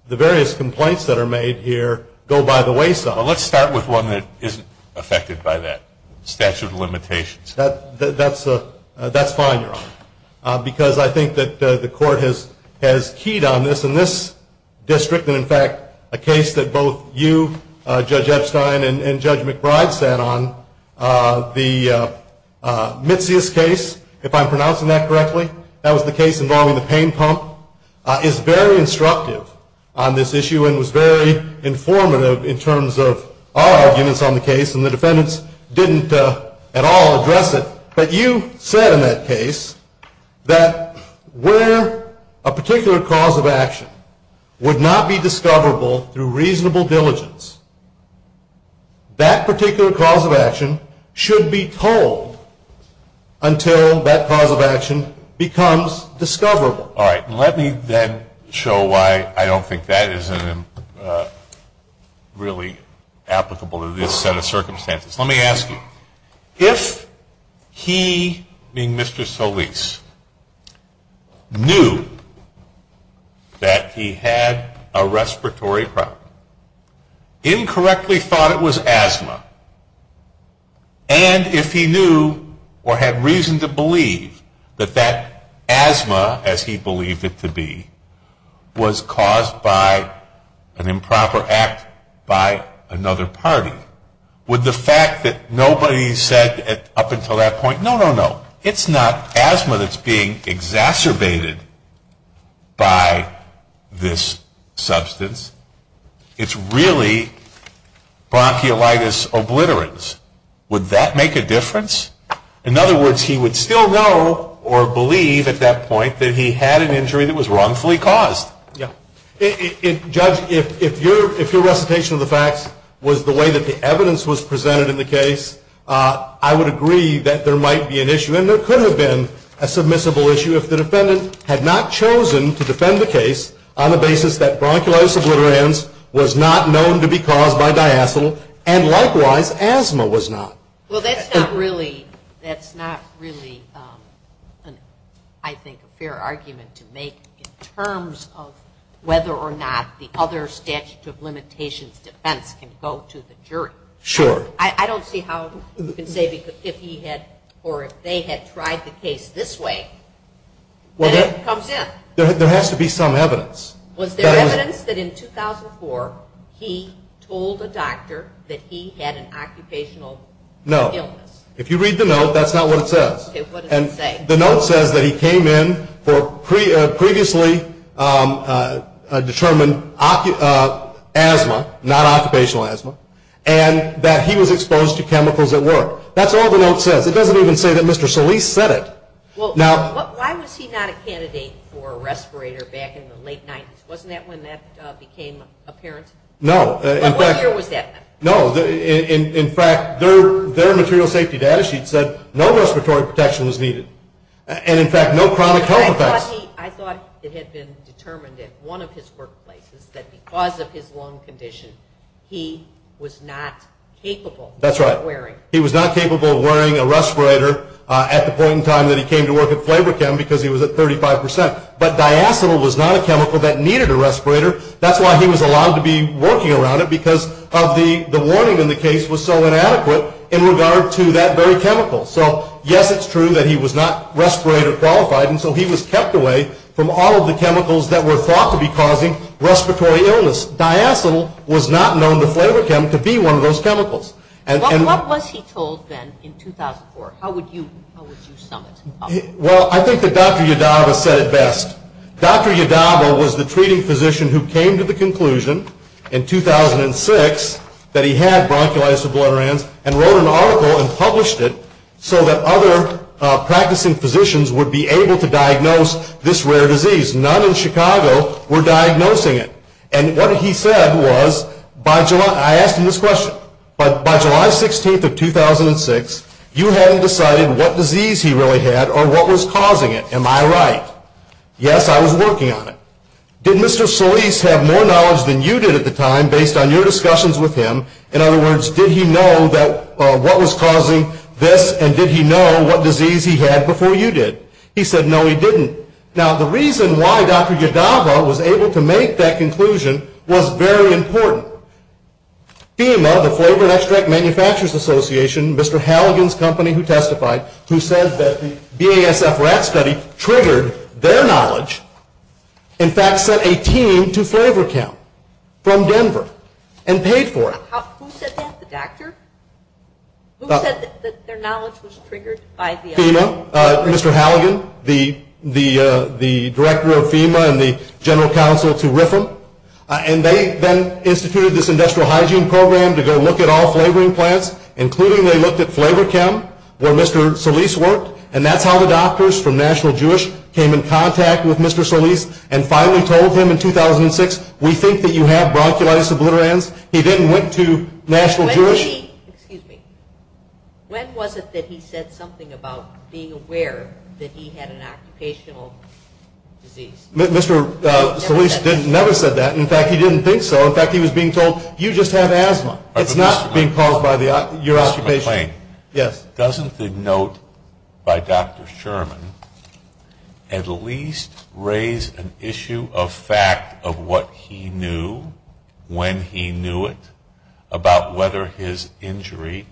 the various complaints that are made here go by the wayside. Let's start with one that isn't affected by that, statute of limitations. That's fine, Your Honor, because I think that the court has keyed on this. In this district, and in fact a case that both you, Judge Epstein, and Judge McBride sat on, the Mitzias case, if I'm pronouncing that correctly, that was the case involving the pain pump, is very instructive on this issue and was very informative in terms of our arguments on the case, and the defendants didn't at all address it. But you said in that case that where a particular cause of action would not be discoverable through reasonable diligence, that particular cause of action should be told until that cause of action becomes discoverable. All right, let me then show why I don't think that is really applicable to this set of circumstances. Let me ask you. If he, being Mr. Solis, knew that he had a respiratory problem, incorrectly thought it was asthma, and if he knew or had reason to believe that that asthma, as he believed it to be, was caused by an improper act by another party, would the fact that nobody said up until that point, no, no, no, it's not asthma that's being exacerbated by this substance, it's really bronchiolitis obliterans, would that make a difference? In other words, he would still know or believe at that point that he had an injury that was wrongfully caused. Judge, if your recitation of the facts was the way that the evidence was presented in the case, I would agree that there might be an issue, and there could have been a submissible issue, if the defendant had not chosen to defend the case on the basis that bronchiolitis obliterans was not known to be caused by diacetyl, and likewise asthma was not. Well, that's not really, I think, a fair argument to make in terms of whether or not the other statute of limitations defense can go to the jury. Sure. I don't see how you can say because if he had, or if they had tried the case this way, there has to be some evidence. Was there evidence that in 2004 he told the doctor that he had an occupational illness? No. If you read the note, that's not what it says. Okay, what does it say? The note says that he came in for previously determined asthma, not occupational asthma, and that he was exposed to chemicals at work. That's all the note says. It doesn't even say that Mr. Solis said it. Well, why was he not a candidate for a respirator back in the late 90s? Wasn't that when that became apparent? No. What year was that? No. In fact, their material safety data sheet said no respiratory protection was needed, and in fact, no chronic health effects. I thought it had been determined in one of his workplaces that because of his lung condition, he was not capable of wearing a respirator at the point in time that he came to work at Flavor Chem because he was at 35%, but diacetyl was not a chemical that needed a respirator. That's why he was allowed to be working around it because the warning in the case was so inadequate in regard to that very chemical. So, yes, it's true that he was not respirator qualified, and so he was kept away from all of the chemicals that were thought to be causing respiratory illness. Diacetyl was not known to Flavor Chem to be one of those chemicals. What was he told then in 2004? How would you sum it up? Well, I think that Dr. Yadaba said it best. Dr. Yadaba was the treating physician who came to the conclusion in 2006 that he had bronchiolitis sublaterans and wrote an article and published it so that other practicing physicians would be able to diagnose this rare disease. None in Chicago were diagnosing it. And what he said was, I asked him this question, by July 16th of 2006, you hadn't decided what disease he really had or what was causing it. Am I right? Yes, I was working on it. Did Mr. Solis have more knowledge than you did at the time based on your discussions with him? In other words, did he know what was causing this and did he know what disease he had before you did? He said no, he didn't. Now, the reason why Dr. Yadaba was able to make that conclusion was very important. He and the Flavor Extract Manufacturers Association, Mr. Halligan's company who testified, who said that the BASF rat study triggered their knowledge, in fact sent a team to Flavor Chem from Denver and paid for it. Who said that, the doctor? Who said that their knowledge was triggered by the FDA? Mr. Halligan, the director of FEMA and the general counsel to RIFM. And they then instituted this industrial hygiene program to go look at all flavoring plants, including they looked at Flavor Chem where Mr. Solis worked, and that's how the doctors from National Jewish came in contact with Mr. Solis and finally told him in 2006, we think that you have bronchitis obliterans. He then went to National Jewish. Excuse me. When was it that he said something about being aware that he had an occupational disease? Mr. Solis never said that. In fact, he didn't think so. In fact, he was being told, you just have asthma. It's not being caused by your occupational pain. Yes. Doesn't the note by Dr. Sherman at least raise an issue of fact of what he knew, when he knew it, about whether his injury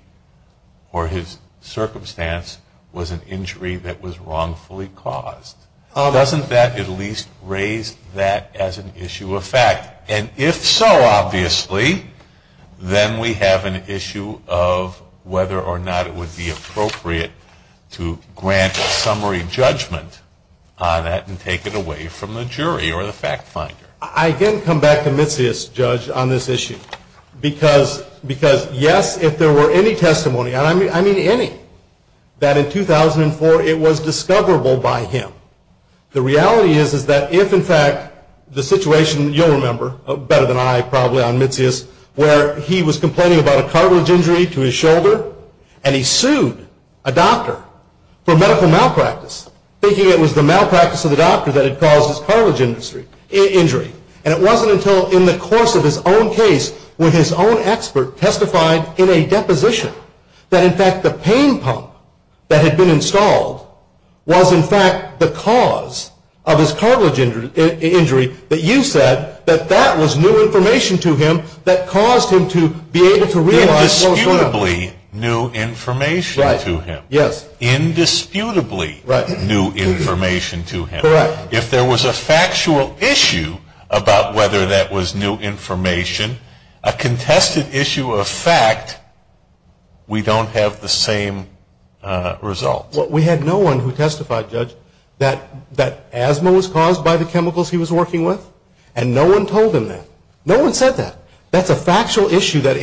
or his circumstance was an injury that was wrongfully caused? Doesn't that at least raise that as an issue of fact? And if so, obviously, then we have an issue of whether or not it would be appropriate to grant a summary judgment on that and take it away from the jury or the fact finder. I didn't come back to Mitzias, Judge, on this issue. Because, yes, if there were any testimony, and I mean any, that in 2004 it was discoverable by him. The reality is that if in fact the situation, you'll remember, better than I probably on Mitzias, where he was complaining about a cartilage injury to his shoulder, and he sued a doctor for medical malpractice, thinking it was the malpractice of the doctor that had caused his cartilage injury. And it wasn't until in the course of his own case, when his own expert testified in a deposition, that in fact the pain pump that had been installed was in fact the cause of his cartilage injury, that you said that that was new information to him that caused him to be able to realize... Indisputably new information to him. Indisputably new information to him. Correct. If there was a factual issue about whether that was new information, a contested issue of fact, we don't have the same results. We had no one who testified, Judge, that asthma was caused by the chemicals he was working with, and no one told him that. No one said that. That's a factual issue that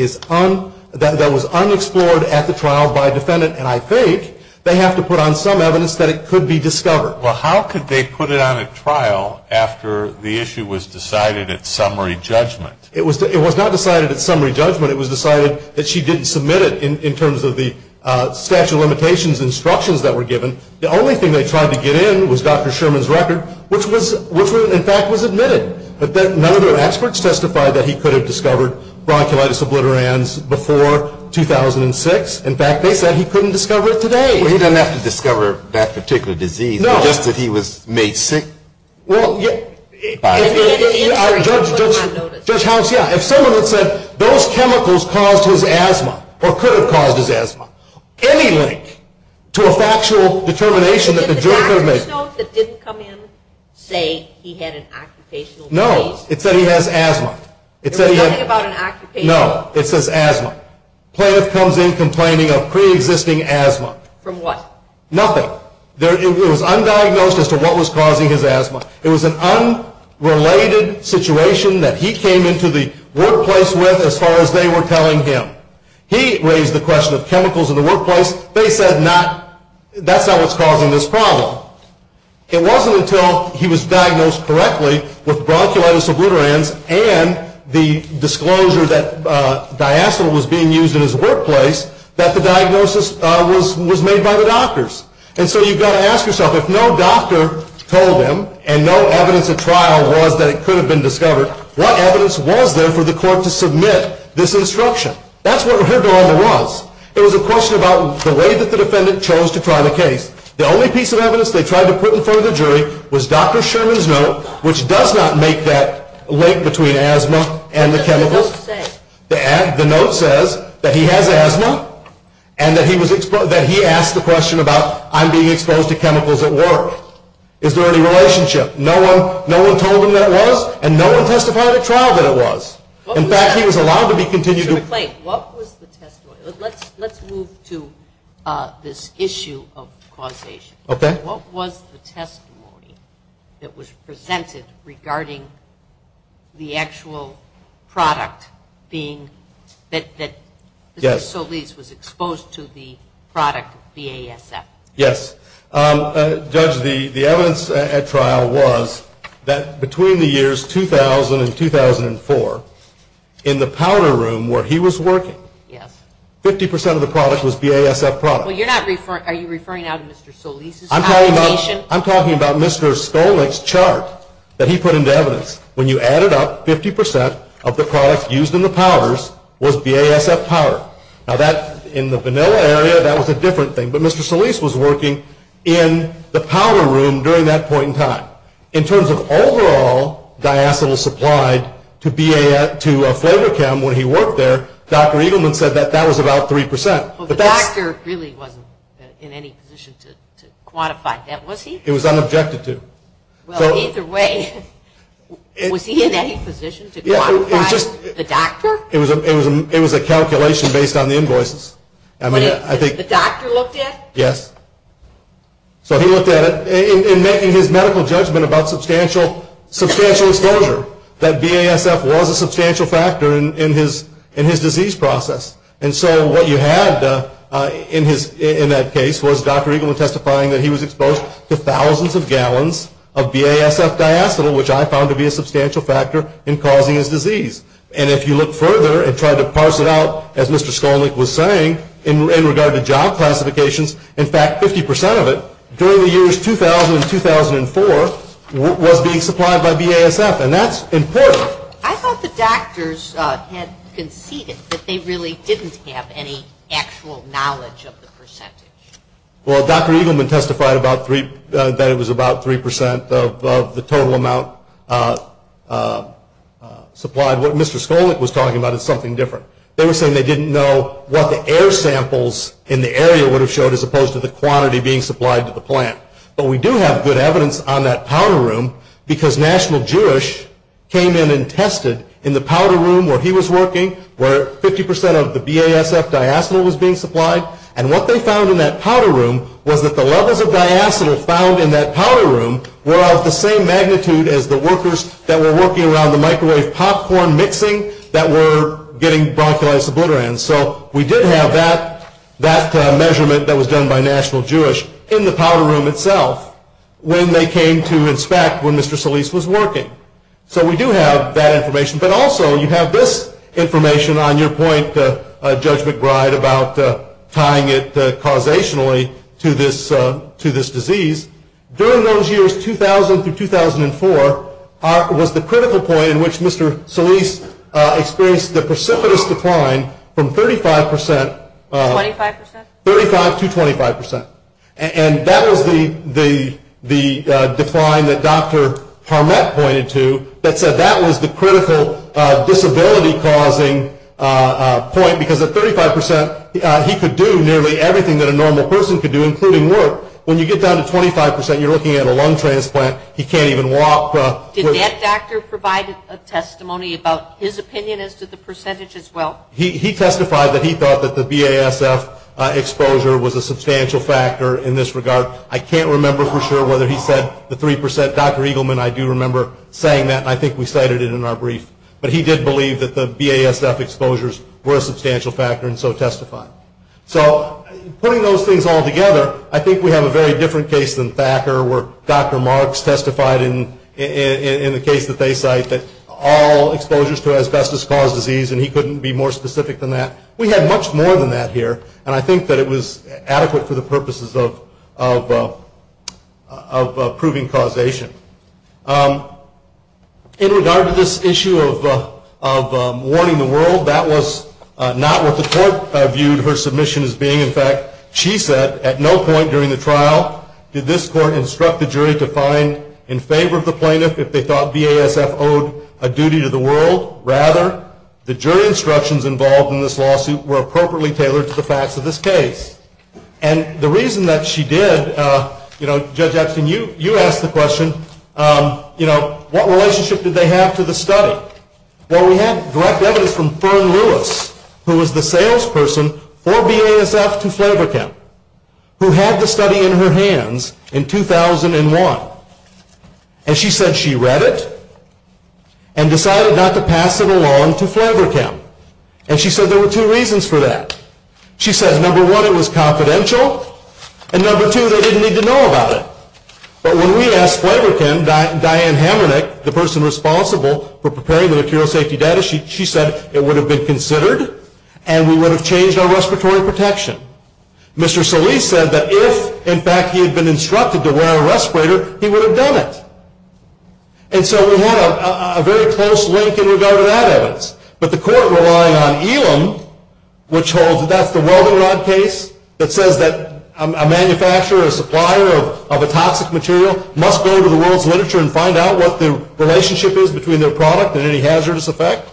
was unexplored at the trial by a defendant, and I think they have to put on some evidence that it could be discovered. Well, how could they put it on a trial after the issue was decided at summary judgment? It was not decided at summary judgment. It was decided that she didn't submit it in terms of the statute of limitations instructions that were given. The only thing they tried to get in was Dr. Sherman's record, which in fact was admitted, but then none of their experts testified that he could have discovered bronchitis obliterans before 2006. In fact, they said he couldn't discover it today. Well, he doesn't have to discover that particular disease. No. Just that he was made sick? Well, Judge House, yeah. If someone had said those chemicals caused his asthma or could have caused his asthma, any link to a factual determination that the jury could have made. Did the note that didn't come in say he had an occupational disease? No, it said he has asthma. It was talking about an occupational disease. No, it says asthma. Plaintiff comes in complaining of preexisting asthma. From what? Nothing. It was undiagnosed as to what was causing his asthma. It was an unrelated situation that he came into the workplace with as far as they were telling him. He raised the question of chemicals in the workplace. They said that's how it's causing this problem. It wasn't until he was diagnosed correctly with bronchitis obliterans and the disclosure that diacetyl was being used in his workplace that the diagnosis was made by the doctors. And so you've got to ask yourself, if no doctor told him and no evidence of trial was that it could have been discovered, what evidence was there for the court to submit this instruction? That's what her dilemma was. It was a question about the way that the defendant chose to try the case. The only piece of evidence they tried to put in front of the jury was Dr. Sherman's note, which does not make that link between asthma and the chemicals. What does it say? The note says that he has asthma and that he asked the question about, I'm being exposed to chemicals at work. Is there any relationship? No one told him that was, and no one testified at trial that it was. In fact, he was allowed to be continued. Wait. What was the testimony? Let's move to this issue of causation. Okay. What was the testimony that was presented regarding the actual product being, that Mr. Solis was exposed to the product, the ASF? Yes. Judge, the evidence at trial was that between the years 2000 and 2004, in the powder room where he was working, 50% of the product was the ASF product. Are you referring now to Mr. Solis? I'm talking about Mr. Stolich's chart that he put into evidence. When you add it up, 50% of the product used in the powders was the ASF powder. Now, in the vanilla area, that was a different thing, but Mr. Solis was working in the powder room during that point in time. In terms of overall diacetyl supplied to flavor chem when he worked there, Dr. Eagleman said that that was about 3%. The doctor really wasn't in any position to quantify that, was he? It was unobjected to. Well, either way, was he in any position to quantify the doctor? It was a calculation based on the invoices. The doctor looked at it? Yes. So he looked at it. In making his medical judgment about substantial exposure, that BASF was a substantial factor in his disease process. And so what you had in that case was Dr. Eagleman testifying that he was exposed to thousands of gallons of BASF diacetyl, which I found to be a substantial factor in causing his disease. And if you look further and try to parse it out, as Mr. Stolich was saying, in regard to job classifications, in fact 50% of it, during the years 2000 and 2004, was being supplied by BASF. And that's important. I thought the doctors had conceded that they really didn't have any actual knowledge of the percentage. Well, Dr. Eagleman testified that it was about 3% of the total amount supplied. What Mr. Stolich was talking about is something different. They were saying they didn't know what the air samples in the area would have showed as opposed to the quantity being supplied to the plant. But we do have good evidence on that powder room, because National Jewish came in and tested in the powder room where he was working, where 50% of the BASF diacetyl was being supplied. And what they found in that powder room was that the levels of diacetyl found in that powder room were of the same magnitude as the workers that were working around the microwave popcorn mixing that were getting bronchitis obliterans. So we did have that measurement that was done by National Jewish in the powder room itself when they came to inspect when Mr. Stolich was working. So we do have that information. But also you have this information on your point, Judge McBride, about tying it causationally to this disease. During those years, 2000 to 2004, was the critical point in which Mr. Stolich experienced a precipitous decline from 35% to 25%. And that was the decline that Dr. Harmat pointed to, that said that was the critical disability-causing point, because at 35% he could do nearly everything that a normal person could do, including work. When you get down to 25%, you're looking at a lung transplant, he can't even walk. Did that doctor provide a testimony about his opinion as to the percentage as well? He testified that he thought that the BASF exposure was a substantial factor in this regard. I can't remember for sure whether he said the 3%. Dr. Eagleman, I do remember saying that, and I think we cited it in our brief. But he did believe that the BASF exposures were a substantial factor and so testified. So putting those things all together, I think we have a very different case than Thacker where Dr. Marks testified in the case that they cite that all exposures to asbestos cause disease, and he couldn't be more specific than that. We had much more than that here, and I think that it was adequate for the purposes of proving causation. In regard to this issue of warning the world, that was not what the court viewed her submission as being. In fact, she said at no point during the trial did this court instruct the jury to find in favor of the plaintiff if they thought BASF owed a duty to the world. Rather, the jury instructions involved in this lawsuit were appropriately tailored to the facts of this case. And the reason that she did, you know, Jeb Jackson, you asked the question, you know, what relationship did they have to the study? Well, we have direct evidence from Fern Lewis, who was the salesperson for BASF to Flavortown, who had the study in her hands in 2001. And she said she read it and decided not to pass it along to Flavortown. And she said there were two reasons for that. She said, number one, it was confidential, and number two, they didn't need to know about it. But when we asked Flavortown, Diane Hamernick, the person responsible for preparing the material safety data, she said it would have been considered and we would have changed our respiratory protection. Mr. Solis said that if, in fact, he had been instructed to wear a respirator, he would have done it. And so we have a very close link in regard to that evidence. But the court relied on Elam, which holds that that's the Weldonrod case that says that a manufacturer or supplier of a toxic material must go to the world's literature and find out what the relationship is between their product and any hazardous effects.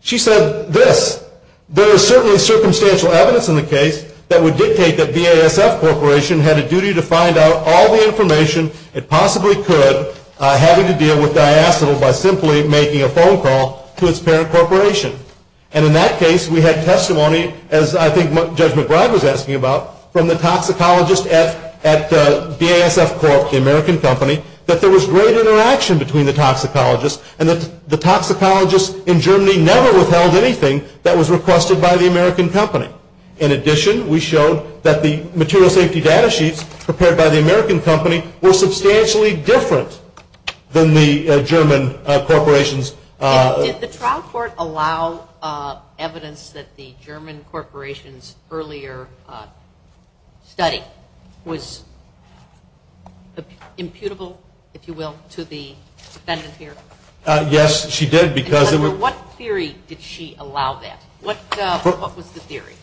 She said this, there is certainly circumstantial evidence in the case that would dictate that BASF Corporation had a duty to find out all the information it possibly could having to deal with diacetyl by simply making a phone call to its parent corporation. And in that case, we had testimony, as I think Judge McBride was asking about, from the toxicologist at BASF Corp., the American company, that there was great interaction between the toxicologists and that the toxicologists in Germany never withheld anything that was requested by the American company. In addition, we showed that the material safety data sheets prepared by the American company were substantially different than the German corporation's. Did the trial court allow evidence that the German corporation's earlier study was imputable, if you will, to the defendant here? Yes, she did. Under what theory did she allow that? What was the theory?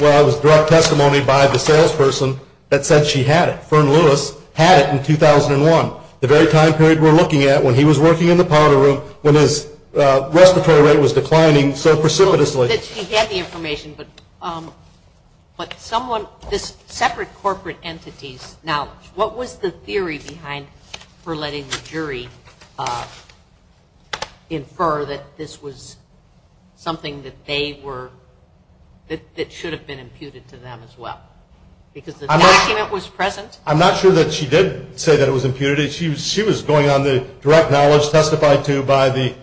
Well, it was direct testimony by the salesperson that said she had it. Fern Lewis had it in 2001, the very time period we're looking at when he was working in the powder room when his respiratory rate was declining so precipitously. She had the information, but someone, just separate corporate entities. Now, what was the theory behind her letting the jury infer that this was something that they were, that should have been imputed to them as well? Because the document was present. I'm not sure that she did say that it was imputed. She was going on the direct knowledge testified to by the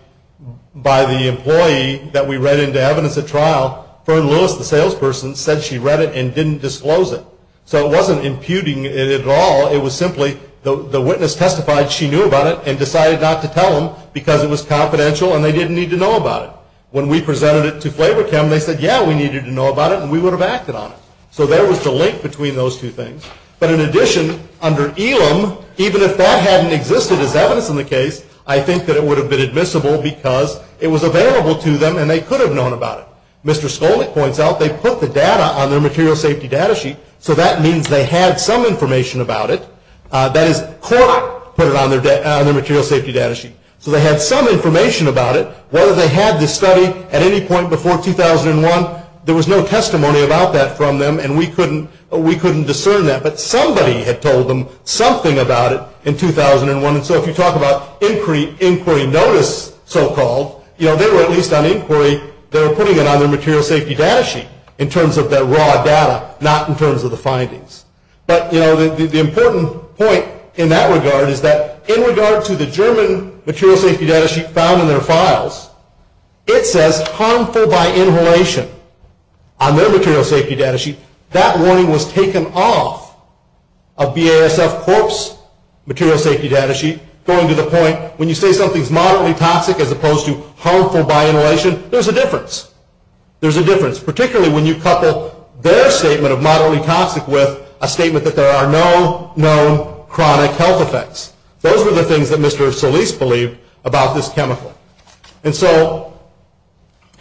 employee that we read into evidence at trial. Fern Lewis, the salesperson, said she read it and didn't disclose it. So it wasn't imputing it at all. It was simply the witness testified she knew about it and decided not to tell them because it was confidential and they didn't need to know about it. When we presented it to Flavor Chem, they said, yeah, we needed to know about it, and we would have acted on it. So there was a link between those two things. But in addition, under ELIM, even if that hadn't existed as evidence in the case, I think that it would have been admissible because it was available to them and they could have known about it. Mr. Stolman points out they put the data on their material safety data sheet, so that means they had some information about it. That is, Cork put it on their material safety data sheet. So they had some information about it. Whether they had the study at any point before 2001, there was no testimony about that from them, and we couldn't discern that. But somebody had told them something about it in 2001. So if you talk about inquiry notice so-called, they were at least on inquiry. They were putting it on their material safety data sheet in terms of their raw data, not in terms of the findings. But the important point in that regard is that in regard to the German material safety data sheet found in their files, it says harmful by inhalation on their material safety data sheet. That warning was taken off of BASF Cork's material safety data sheet, going to the point when you say something is moderately toxic as opposed to harmful by inhalation, there's a difference. There's a difference, particularly when you couple their statement of moderately toxic with a statement that there are no known chronic health effects. Those are the things that Mr. Solis believed about this chemical. And so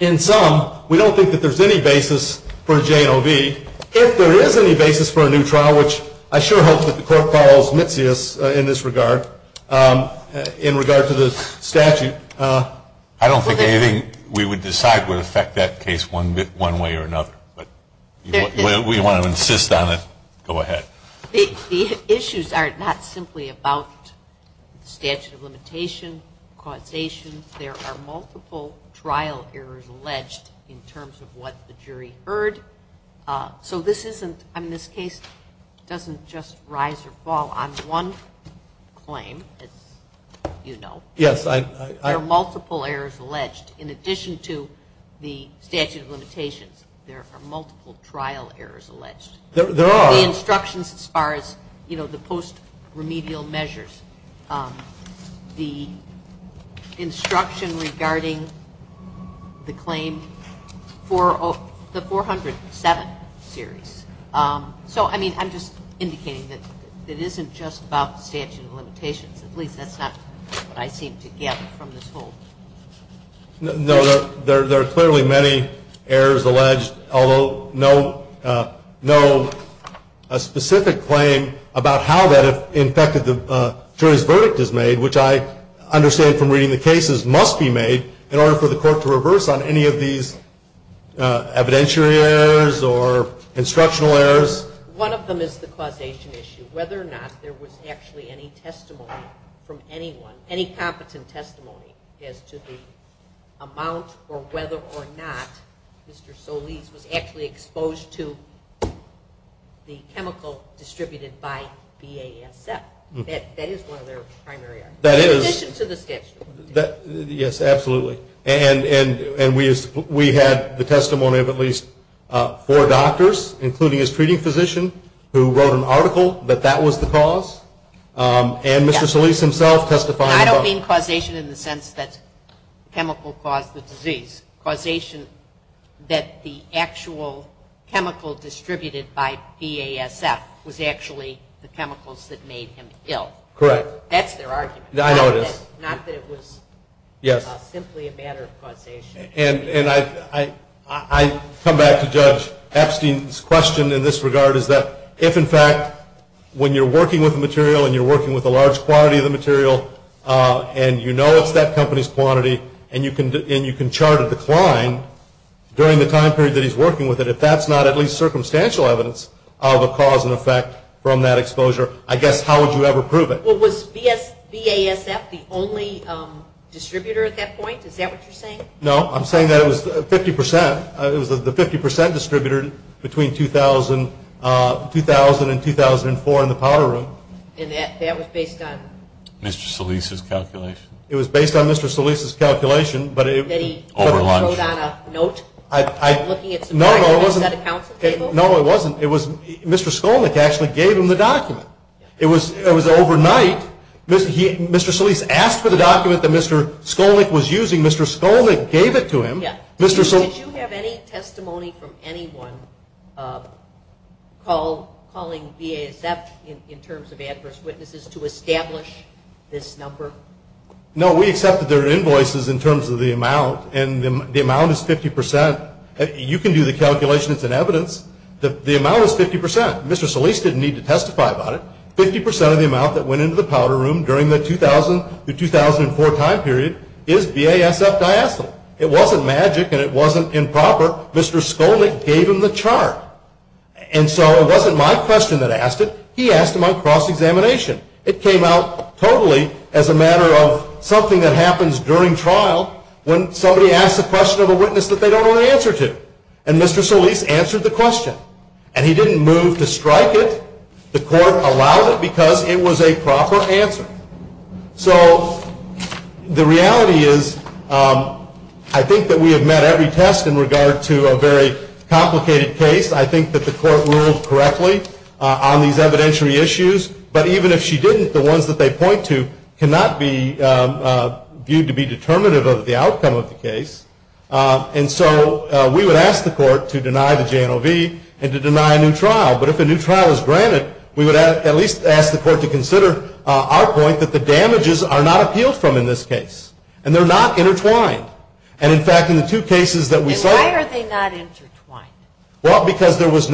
in sum, we don't think that there's any basis for J-O-V. If there is any basis for a new trial, which I sure hope that the court calls mischievous in this regard, in regard to this statute. I don't think anything we would decide would affect that case one way or another. If we want to insist on it, go ahead. These issues are not simply about statute of limitation, causation. There are multiple trial errors alleged in terms of what the jury heard. So this case doesn't just rise or fall on one claim, as you know. There are multiple errors alleged. In addition to the statute of limitation, there are multiple trial errors alleged. There are. The instructions as far as, you know, the post-remedial measures. The instruction regarding the claim, the 407 series. So, I mean, I'm just indicating that it isn't just about statute of limitation. At least that's not what I seem to get from this whole thing. No, there are clearly many errors alleged, although no specific claim about how that affected the jury's verdict is made, which I understand from reading the cases must be made in order for the court to reverse on any of these evidentiary errors or instructional errors. One of them is the causation issue, whether or not there was actually any testimony from anyone, any competent testimony as to the amount or whether or not Mr. Solis was actually exposed to the chemical distributed by BASF. That is one of their primary arguments. In addition to the statute. Yes, absolutely. And we have the testimony of at least four doctors, including his treating physician, who wrote an article that that was the cause. And Mr. Solis himself testified. I don't mean causation in the sense that chemical caused the disease. Causation that the actual chemical distributed by BASF was actually the chemicals that made him ill. That's their argument. I know it is. Not that it was simply a matter of causation. And I come back to Judge Epstein's question in this regard, is that if, in fact, when you're working with material and you're working with a large quantity of the material and you know it's that company's quantity and you can chart a decline during the time period that he's working with it, if that's not at least circumstantial evidence of a cause and effect from that exposure, I guess how would you ever prove it? Well, was BASF the only distributor at that point? Is that what you're saying? No, I'm saying that it was 50%. It was the 50% distributor between 2000 and 2004 in the powder room. And that was based on? Mr. Solis' calculation. It was based on Mr. Solis' calculation, but it was... They wrote down a note? No, no, it wasn't. It wasn't at a council table? No, it wasn't. Mr. Skolnik actually gave him the document. It was overnight. Mr. Solis asked for the document that Mr. Skolnik was using. Mr. Skolnik gave it to him. Did you have any testimony from anyone calling BASF in terms of adverse witnesses to establish this number? No, we accepted their invoices in terms of the amount, and the amount is 50%. You can do the calculations and evidence. The amount is 50%. Mr. Solis didn't need to testify about it. 50% of the amount that went into the powder room during the 2000-2004 time period is BASF diastolic. It wasn't magic, and it wasn't improper. Mr. Skolnik gave him the chart. And so it wasn't my question that asked it. He asked him on cross-examination. It came out totally as a matter of something that happens during trial when somebody asks a question of a witness that they don't know the answer to. And Mr. Solis answered the question. And he didn't move to strike it. The court allowed it because it was a proper answer. So the reality is I think that we have met every test in regard to a very complicated case. I think that the court ruled correctly on these evidentiary issues. But even if she didn't, the ones that they point to cannot be viewed to be determinative of the outcome of the case. And so we would ask the court to deny the JNOV and to deny a new trial. But if a new trial is granted, we would at least ask the court to consider our point that the damages are not appealed from in this case. And they're not intertwined. And, in fact, in the two cases that we say- And why are they not intertwined? Well, because there was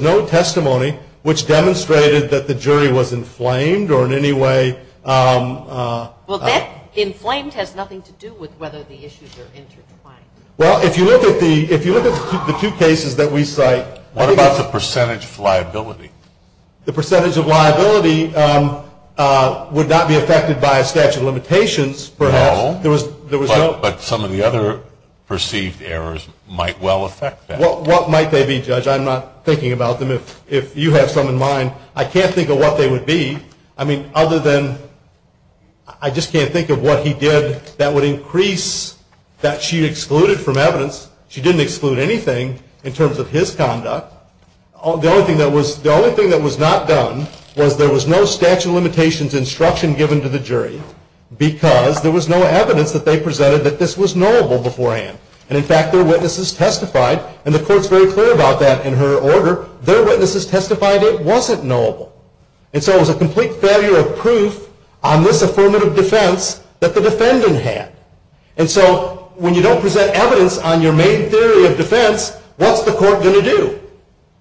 no testimony which demonstrated that the jury was inflamed or in any way- Well, that inflamed has nothing to do with whether the issues are intertwined. Well, if you look at the two cases that we cite- What about the percentage of liability? The percentage of liability would not be affected by a statute of limitations perhaps. No. But some of the other perceived errors might well affect that. Well, what might they be, Judge? I'm not thinking about them. If you have some in mind, I can't think of what they would be. I mean, other than- I just can't think of what he did that would increase that she excluded from evidence. She didn't exclude anything in terms of his conduct. The only thing that was not done was there was no statute of limitations instruction given to the jury because there was no evidence that they presented that this was knowable beforehand. And, in fact, their witnesses testified. And the court's very clear about that in her order. Their witnesses testified it wasn't knowable. And so it was a complete failure of proof on this affirmative defense that the defendant had. And so when you don't present evidence on your main theory of defense, what's the court going to do?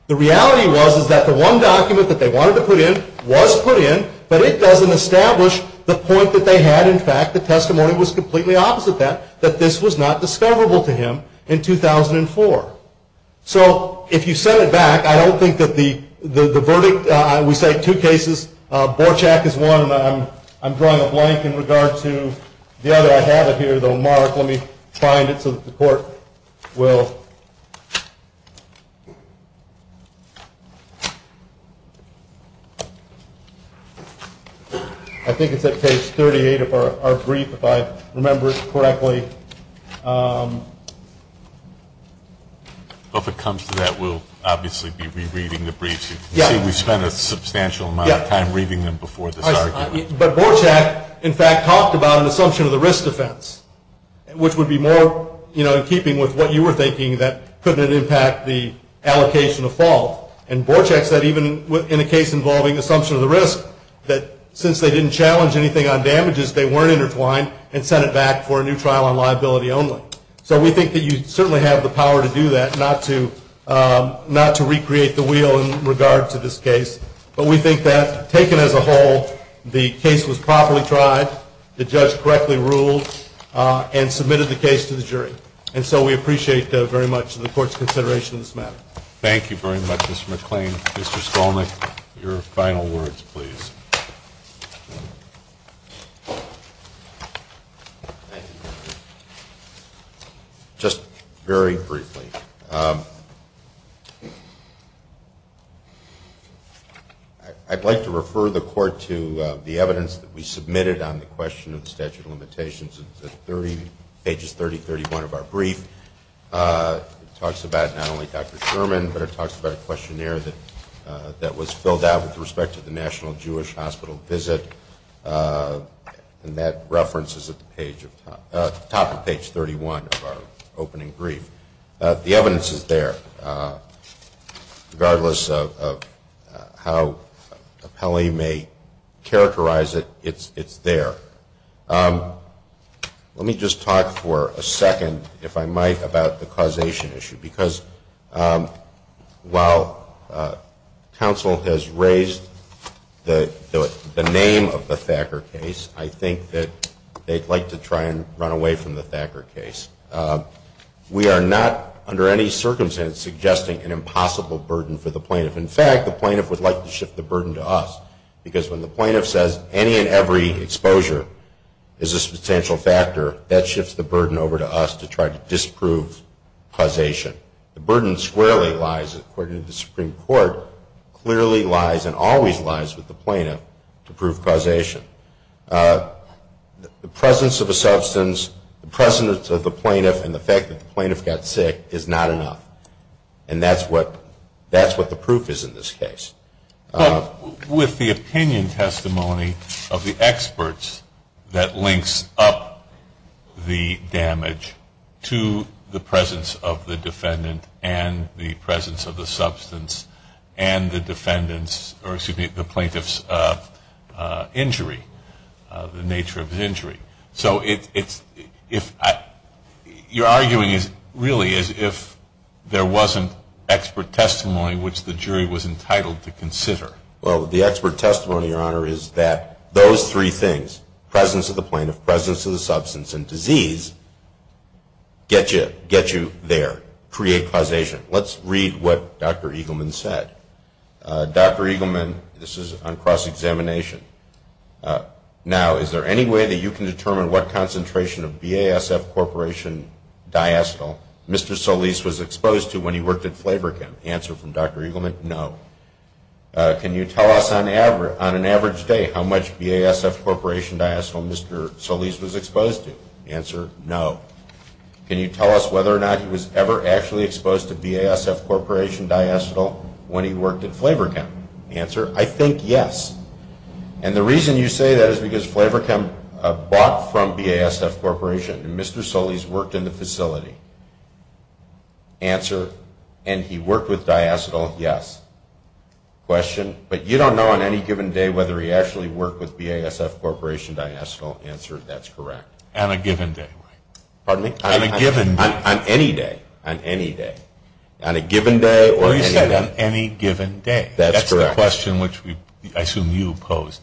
The reality was that the one document that they wanted to put in was put in, but it doesn't establish the point that they had. In fact, the testimony was completely opposite that, that this was not discoverable to him in 2004. So, if you set it back, I don't think that the verdict- I would say two cases. Borchak is one, and I'm drawing a blank in regard to the other. I have it here, though. Mark, let me find it so that the court will- I think it's at page 38 of our brief, if I remember it correctly. If it comes to that, we'll obviously be rereading the briefs. We spent a substantial amount of time reading them before this argument. But Borchak, in fact, talked about an assumption of the risk defense, which would be more in keeping with what you were thinking, that couldn't it impact the allocation of faults? And Borchak said, even in a case involving assumption of the risk, that since they didn't challenge anything on damages, they weren't intertwined, and set it back for a new trial on liability only. So, we think that you certainly have the power to do that, not to recreate the wheel in regard to this case. But we think that, taken as a whole, the case was properly tried, the judge correctly ruled, and submitted the case to the jury. And so, we appreciate very much the court's consideration of this matter. Thank you very much, Mr. McLean. Mr. Sloman, your final words, please. Just very briefly. I'd like to refer the court to the evidence that we submitted on the question of statute of limitations. It's pages 30 and 31 of our brief. It talks about not only Dr. Sherman, but it talks about a questionnaire that was filled out with respect to the National Jewish Hospital visit. And that reference is at the top of page 31 of our opening brief. The evidence is there. Regardless of how appellee may characterize it, it's there. Let me just talk for a second, if I might, about the causation issue. Because while counsel has raised the name of the Thacker case, I think that they'd like to try and run away from the Thacker case. We are not, under any circumstance, suggesting an impossible burden for the plaintiff. In fact, the plaintiff would like to shift the burden to us. Because when the plaintiff says any and every exposure is a substantial factor, that shifts the burden over to us to try to disprove causation. The burden squarely lies, according to the Supreme Court, clearly lies and always lies with the plaintiff to prove causation. The presence of a substance, the presence of the plaintiff, and the fact that the plaintiff got sick is not enough. And that's what the proof is in this case. With the opinion testimony of the experts that links up the damage to the presence of the defendant and the presence of the substance and the plaintiff's injury, the nature of the injury. You're arguing, really, as if there wasn't expert testimony which the jury was entitled to consider. Well, the expert testimony, Your Honor, is that those three things, presence of the plaintiff, presence of the substance and disease, get you there, create causation. Let's read what Dr. Eagleman said. Dr. Eagleman, this is on cross-examination. Now, is there any way that you can determine what concentration of BASF Corporation diastole Mr. Solis was exposed to when he worked at Flabergen? Answer from Dr. Eagleman, no. Can you tell us on an average day how much BASF Corporation diastole Mr. Solis was exposed to? Answer, no. Can you tell us whether or not he was ever actually exposed to BASF Corporation diastole when he worked at Flabergen? Answer, I think yes. And the reason you say that is because Flabergen bought from BASF Corporation and Mr. Solis worked in the facility. Answer, and he worked with diastole, yes. Question, but you don't know on any given day whether he actually worked with BASF Corporation diastole. Answer, that's correct. On a given day. Pardon me? On a given day. On any day. On any day. On a given day or any day. You said on any given day. That's correct. That's the question which I assume you posed.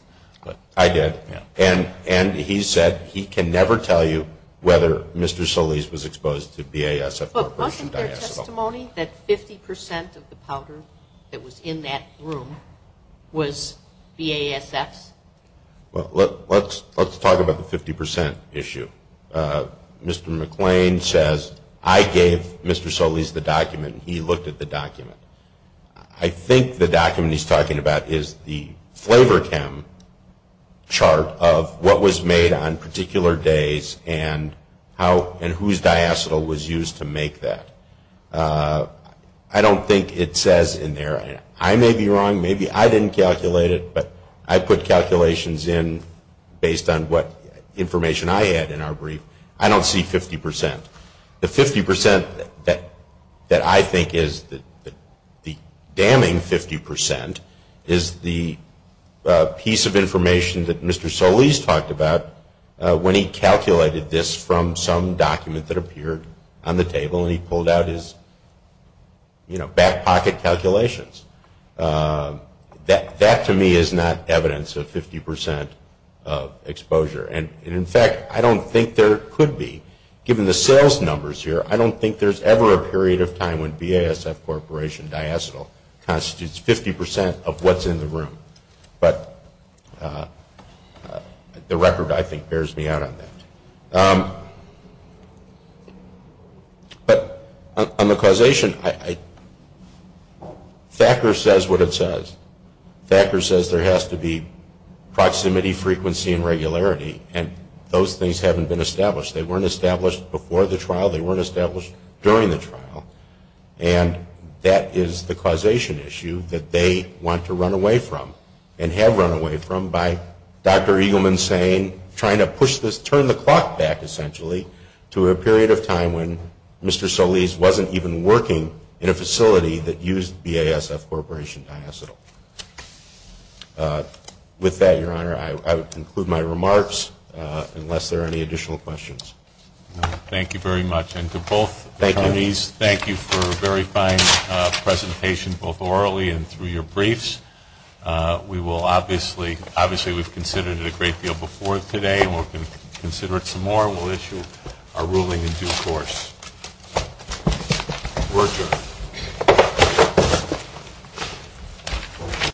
I did. And he said he can never tell you whether Mr. Solis was exposed to BASF Corporation diastole. But wasn't there testimony that 50% of the powder that was in that room was BASF? Let's talk about the 50% issue. Mr. McClain says, I gave Mr. Solis the document and he looked at the document. I think the document he's talking about is the flavor chem chart of what was made on particular days and whose diastole was used to make that. I don't think it says in there. I may be wrong. Maybe I didn't calculate it, but I put calculations in based on what information I had in our brief. I don't see 50%. The 50% that I think is the damning 50% is the piece of information that Mr. Solis talked about when he calculated this from some document that appeared on the table and he pulled out his back pocket calculations. That to me is not evidence of 50% exposure. In fact, I don't think there could be, given the sales numbers here, I don't think there's ever a period of time when BASF Corporation diastole constitutes 50% of what's in the room. But the record, I think, bears me out on that. On the causation, Thacker says what it says. Thacker says there has to be proximity, frequency, and regularity, and those things haven't been established. They weren't established before the trial. They weren't established during the trial. And that is the causation issue that they want to run away from and have run away from by Dr. Eagleman saying, trying to turn the clock back, essentially, to a period of time when Mr. Solis wasn't even working in a facility that used BASF Corporation diastole. With that, Your Honor, I would conclude my remarks unless there are any additional questions. Thank you very much. And to both of you, Solis, thank you for a very fine presentation, both orally and through your briefs. Obviously, we've considered it a great deal before today and we're going to consider it some more. We'll issue a ruling in due course. We're adjourned.